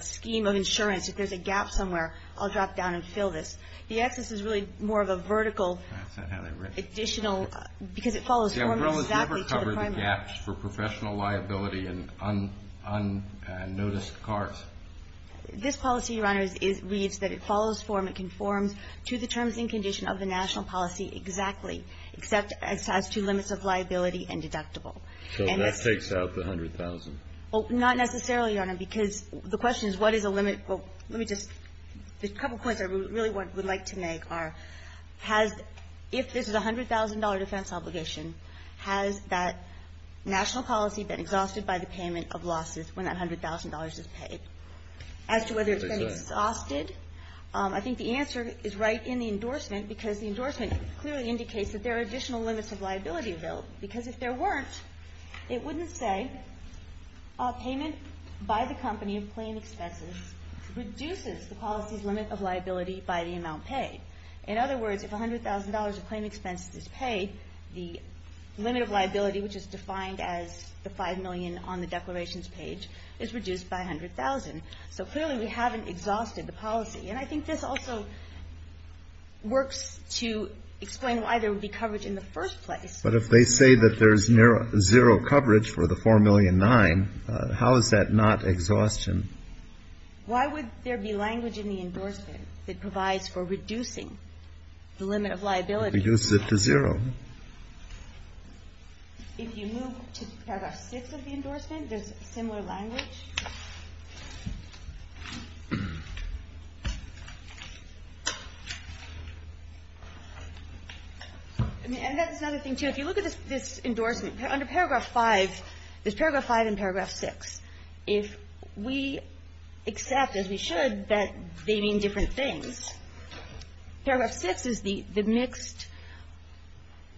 scheme of insurance, if there's a gap somewhere, I'll drop down and fill this. The excess is really more of a vertical additional, because it follows exactly to the primary. The umbrella's never covered the gaps for professional liability and unnoticed cars. This policy, Your Honor, reads that it follows form, conforms to the terms and conditions of the national policy exactly, except it has two limits of liability and deductible. So that takes out the $100,000. Well, not necessarily, Your Honor, because the question is, what is the limit? Let me just, there's a couple points I really would like to make are, has, if this is a $100,000 defense obligation, has that national policy been exhausted by the payment of losses when that $100,000 is paid? As to whether it's been exhausted? I think the answer is right in the endorsement, because the endorsement clearly indicates that there are additional limits of liability, though, because if there weren't, it wouldn't say payments by the company in plain expenses reduces the policy's limit of liability by the amount paid. In other words, if $100,000 of plain expenses is paid, the limit of liability, which is defined as the $5 million on the declarations page, is reduced by $100,000. So clearly we haven't exhausted the policy. And I think this also works to explain why there would be coverage in the first place. But if they say that there's zero coverage for the $4.9 million, how is that not exhaustion? Why would there be language in the endorsement that provides for reducing the limit of liability? It reduces it to zero. If you move to Paragraph 6 of the endorsement, there's similar language. And that's another thing, too. If you look at this endorsement, under Paragraph 5, there's Paragraph 5 and Paragraph 6. If we accept, as we should, that they mean different things, Paragraph 6 is the mixed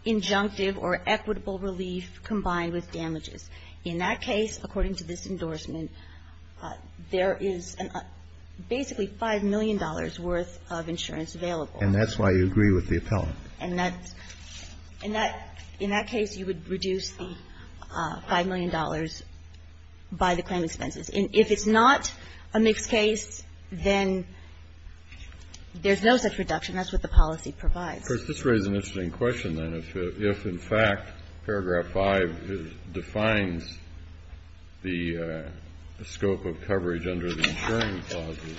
injunctive or equitable relief combined with damages. In that case, according to this endorsement, there is basically $5 million worth of insurance available. And that's why you agree with the appellant. In that case, you would reduce the $5 million by the claim expenses. If it's not a mixed case, then there's no such reduction. That's what the policy provides. Chris, this raises an interesting question, then. If, in fact, Paragraph 5 defines the scope of coverage under the insurance clauses,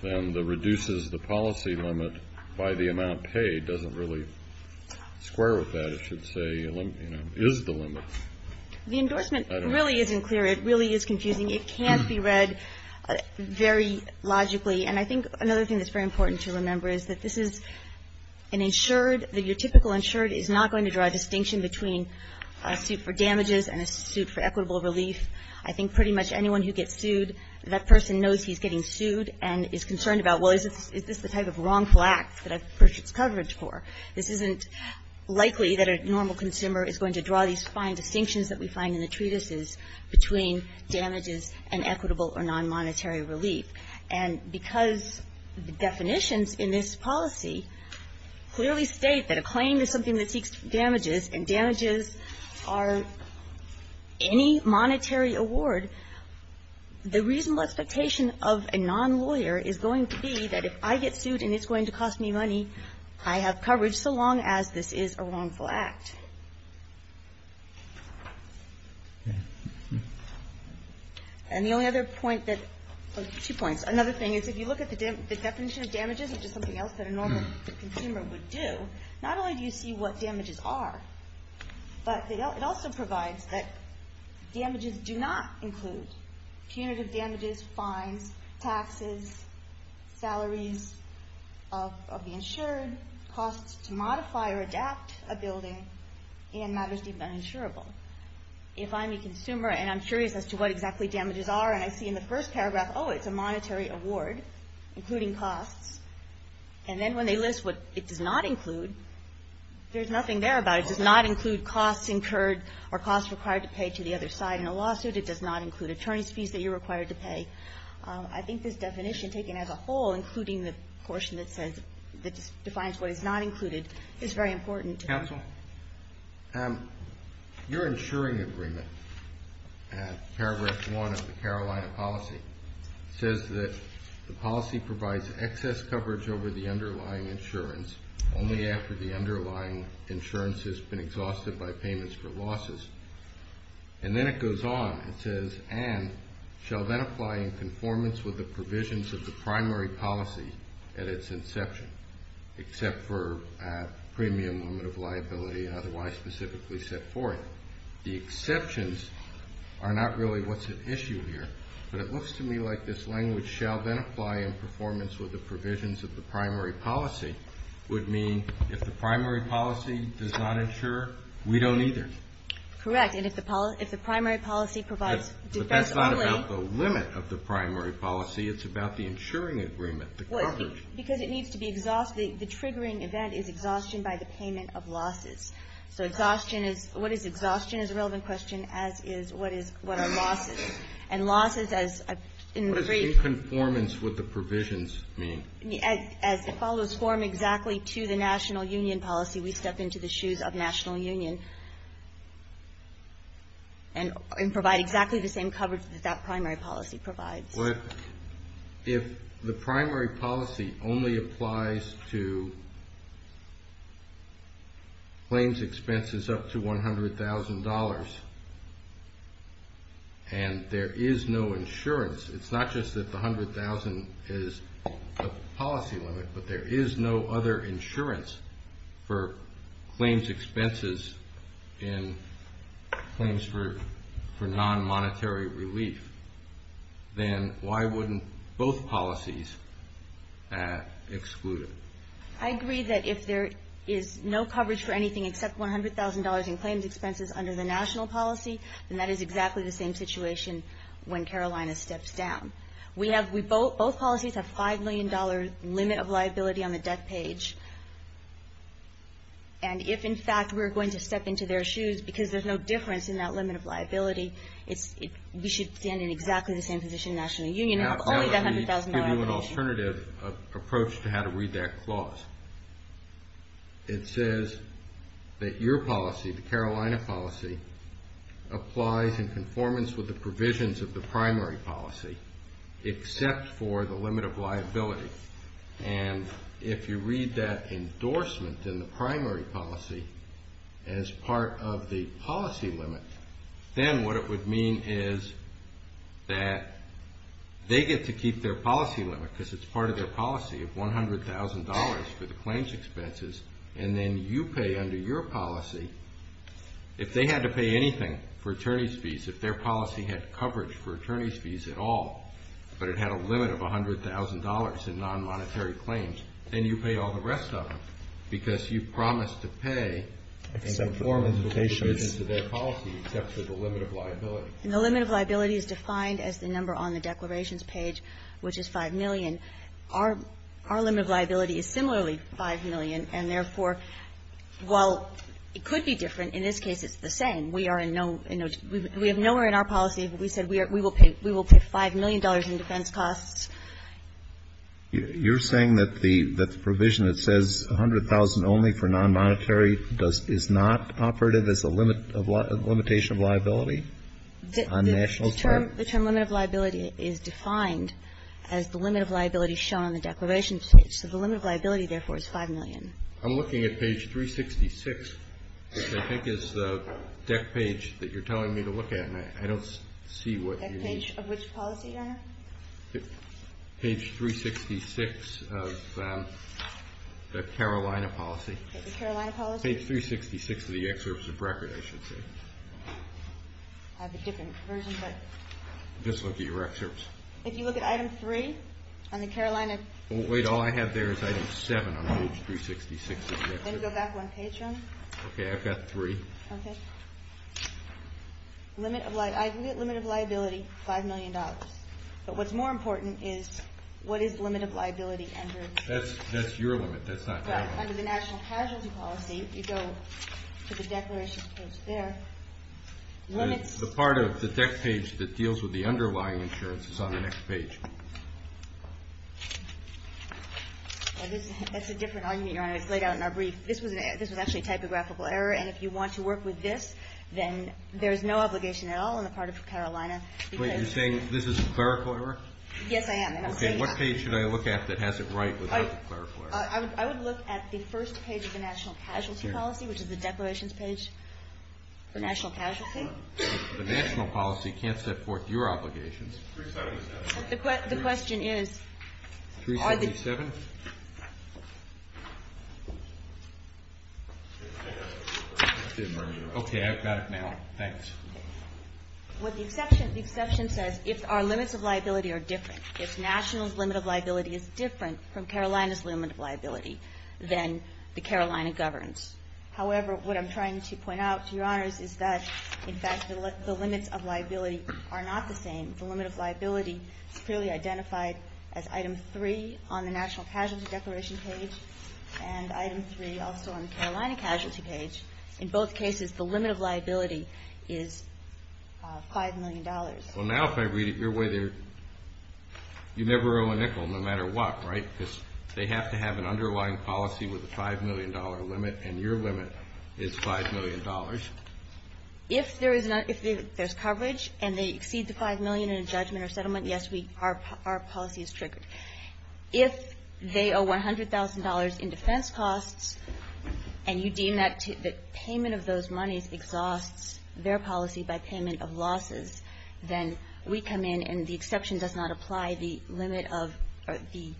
then the reduces the policy limit by the amount paid doesn't really square with that. It should say, you know, is the limit. The endorsement really isn't clear. It really is confusing. It can't be read very logically. And I think another thing that's very important to remember is that this is an insured. Your typical insured is not going to draw a distinction between a suit for damages and a suit for equitable relief. I think pretty much anyone who gets sued, that person knows he's getting sued and is concerned about, well, is this the type of wrongful act that I purchased coverage for? This isn't likely that a normal consumer is going to draw these fine distinctions that we find in the treatises between damages and equitable or non-monetary relief. And because the definitions in this policy clearly state that a claim is something that seeks damages and damages are any monetary award, the reasonable expectation of a non-lawyer is going to be that if I get sued and it's going to cost me money, I have coverage so long as this is a wrongful act. And the only other point that, well, two points. Another thing is if you look at the definition of damages, which is something else that a normal consumer would do, not only do you see what damages are, but it also provides that damages do not include punitive damages, fines, taxes, salaries of the insured, costs to modify or adapt a building, and matters deemed uninsurable. If I'm a consumer and I'm curious as to what exactly damages are and I see in the first paragraph, oh, it's a monetary award, including costs, and then when they list what it does not include, there's nothing there about it. It does not include costs incurred or costs required to pay to the other side in a lawsuit. It does not include attorney's fees that you're required to pay. I think this definition, taken as a whole, including the portion that defines what is not included, is very important. Counsel, your insuring agreement, paragraph one of the Carolina policy, says that the policy provides excess coverage over the underlying insurance only after the underlying insurance has been exhausted by payments for losses. And then it goes on. It says, and shall then apply in conformance with the provisions of the primary policy at its inception, except for premium limit of liability otherwise specifically set forth. The exceptions are not really what's at issue here, but it looks to me like this language, shall then apply in performance with the provisions of the primary policy, would mean if the primary policy does not insure, we don't either. Correct. And if the primary policy provides defense only. But that's not about the limit of the primary policy. It's about the insuring agreement, the coverage. Because it needs to be exhausted. The triggering event is exhaustion by the payment of losses. So exhaustion is, what is exhaustion is a relevant question, as is what are losses. And losses as in the phrase. What does in conformance with the provisions mean? As it follows form exactly to the national union policy, we step into the shoes of national unions and provide exactly the same coverage that that primary policy provides. But if the primary policy only applies to claims expenses up to $100,000, and there is no insurance. It's not just that the $100,000 is a policy limit, but there is no other insurance for claims expenses in claims for non-monetary relief. Then why wouldn't both policies have excluded? I agree that if there is no coverage for anything except $100,000 in claims expenses under the national policy, then that is exactly the same situation when Carolina steps down. We have, both policies have $5 million limit of liability on the desk page. And if in fact we're going to step into their shoes, because there's no difference in that limit of liability, we should stand in exactly the same position in the national union. That would give you an alternative approach to how to read that clause. It says that your policy, the Carolina policy, applies in conformance with the provisions of the primary policy, except for the limit of liability. And if you read that endorsement in the primary policy as part of the policy limit, then what it would mean is that they get to keep their policy limit, because it's part of their policy of $100,000 for the claims expenses, and then you pay under your policy, if they had to pay anything for attorney's fees, if their policy had coverage for attorney's fees at all, but it had a limit of $100,000 in non-monetary claims, and you pay all the rest of it, because you promised to pay in conformance with the provisions of their policy, except for the limit of liability. And the limit of liability is defined as the number on the declarations page, which is $5 million. Our limit of liability is similarly $5 million, and therefore, while it could be different, in this case it's the same. We have nowhere in our policy that we said we will pay $5 million in defense costs. You're saying that the provision that says $100,000 only for non-monetary is not operative as a limitation of liability on national claims? The term limit of liability is defined as the limit of liability shown on the declarations page, so the limit of liability, therefore, is $5 million. I'm looking at page 366, which I think is the deck page that you're telling me to look at, and I don't see what you mean. Deck page of which policy, Your Honor? Page 366 of the Carolina policy. The Carolina policy? Page 366 of the excerpt of the record, I should say. I have a different version, but... Just look at your excerpts. If you look at item 3 on the Carolina... Wait, all I have there is item 7 on page 366 of the record. Then go back one page, Your Honor. Okay, I've got 3. Okay. Limit of liability, $5 million. But what's more important is what is the limit of liability under... That's your limit. That's not mine. Under the national casualty policy, if you go to the declarations page there, the limit... The part of the deck page that deals with the underlying insurance is on the next page. That's a different argument, Your Honor. It's laid out in our brief. This is actually a typographical error, and if you want to work with this, then there's no obligation at all on the part of the Carolina. Wait, you're saying this is a clerical error? Yes, I am. Okay, what page should I look at that has it right with the clerical error? I would look at the first page of the national casualty policy, which is the declarations page for national casualty. The national policy can't support your obligations. 377. The question is... 377? Okay, I've got it now. Thanks. What the exception says, if our limits of liability are different, if national's limit of liability is different from Carolina's limit of liability, then the Carolina governs. However, what I'm trying to point out to Your Honor is that, in fact, the limits of liability are not the same. The limit of liability is clearly identified as item 3 on the national casualty declaration page, and item 3 also on the Carolina casualty page. In both cases, the limit of liability is $5 million. Well, now if I read it your way, you never owe a nickel no matter what, right? Because they have to have an underlying policy with a $5 million limit, and your limit is $5 million. If there's coverage and they exceed the $5 million in a judgment or settlement, yes, our policy is stricter. If they owe $100,000 in defense costs, and you deem that payment of those monies exhausts their policy by payment of losses, then we come in and the exception does not apply. The limit of the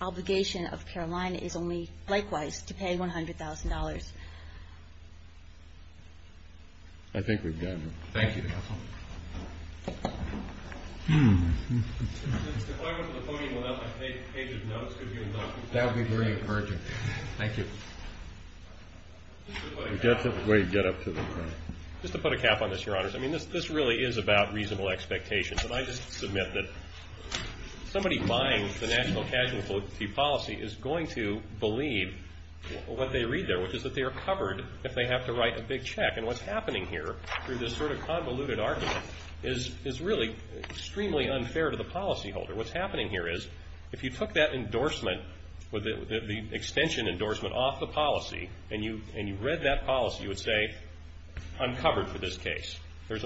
obligation of Carolina is only, likewise, to pay $100,000. I think we've gotten there. Thank you. Just to put a cap on this, Your Honors, I mean, this really is about reasonable expectations, and I just submit that somebody buying the national casualty policy is going to believe what they read there, which is that they are covered if they have to write a big check, and what's happening here through this sort of convoluted, is really extremely unfair to the policyholder. What's happening here is if you took that endorsement, the extension endorsement, off the policy and you read that policy, you would say, I'm covered for this case. There's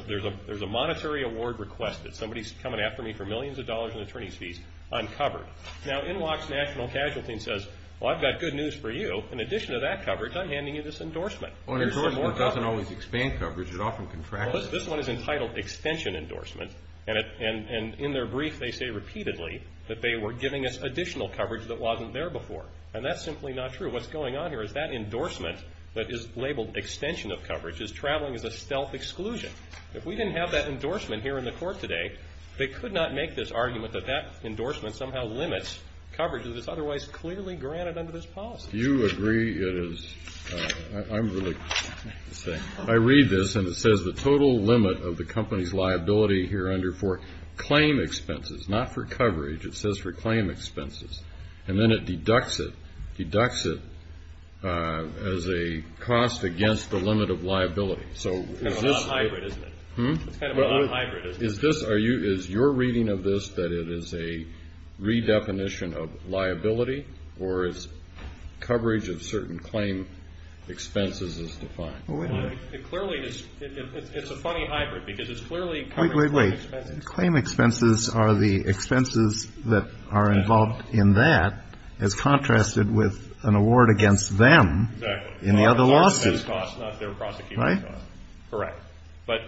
a monetary award requested. Somebody's coming after me for millions of dollars in attorney fees. I'm covered. Now, NWOC's national casualty says, well, I've got good news for you. In addition to that coverage, I'm handing you this endorsement. Well, an endorsement doesn't always expand coverage. It often contracts. This one is entitled extension endorsement, and in their brief they say repeatedly that they were giving us additional coverage that wasn't there before, and that's simply not true. What's going on here is that endorsement that is labeled extension of coverage is traveling as a stealth exclusion. If we didn't have that endorsement here in the court today, they could not make this argument that that endorsement somehow limits coverage that is otherwise clearly granted under this policy. If you agree, I read this and it says the total limit of the company's liability here under for claim expenses, not for coverage, it says for claim expenses, and then it deducts it, deducts it as a cost against the limit of liability. It's not hybrid, is it? Is your reading of this that it is a redefinition of liability, or is coverage of certain claim expenses is defined? It clearly is. It's a funny hybrid, because it's clearly... Wait, wait, wait. Claim expenses are the expenses that are involved in that, as contrasted with an award against them in the other lawsuits. Right. Correct. But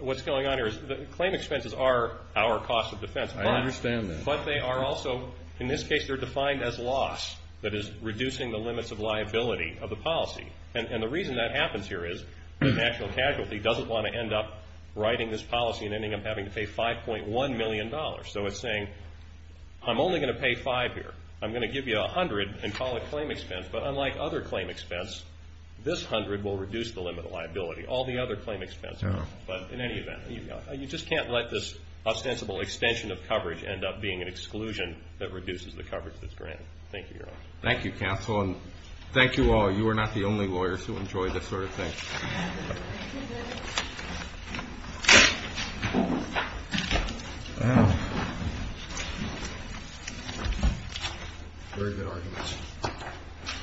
what's going on here is that claim expenses are our cost of defense. I understand that. But they are also, in this case, they're defined as loss that is reducing the limits of liability of the policy. And the reason that happens here is the actual casualty doesn't want to end up writing this policy and ending up having to pay $5.1 million. So it's saying, I'm only going to pay 5 here. I'm going to give you 100 and call it claim expense. But unlike other claim expense, this 100 will reduce the limit of liability. All the other claim expense won't. But in any event, you just can't let this ostensible extension of coverage end up being an exclusion that reduces the coverage that's granted. Thank you, Your Honor. Thank you, counsel. And thank you all. You are not the only lawyers who enjoy this sort of thing. Thank you, Your Honor.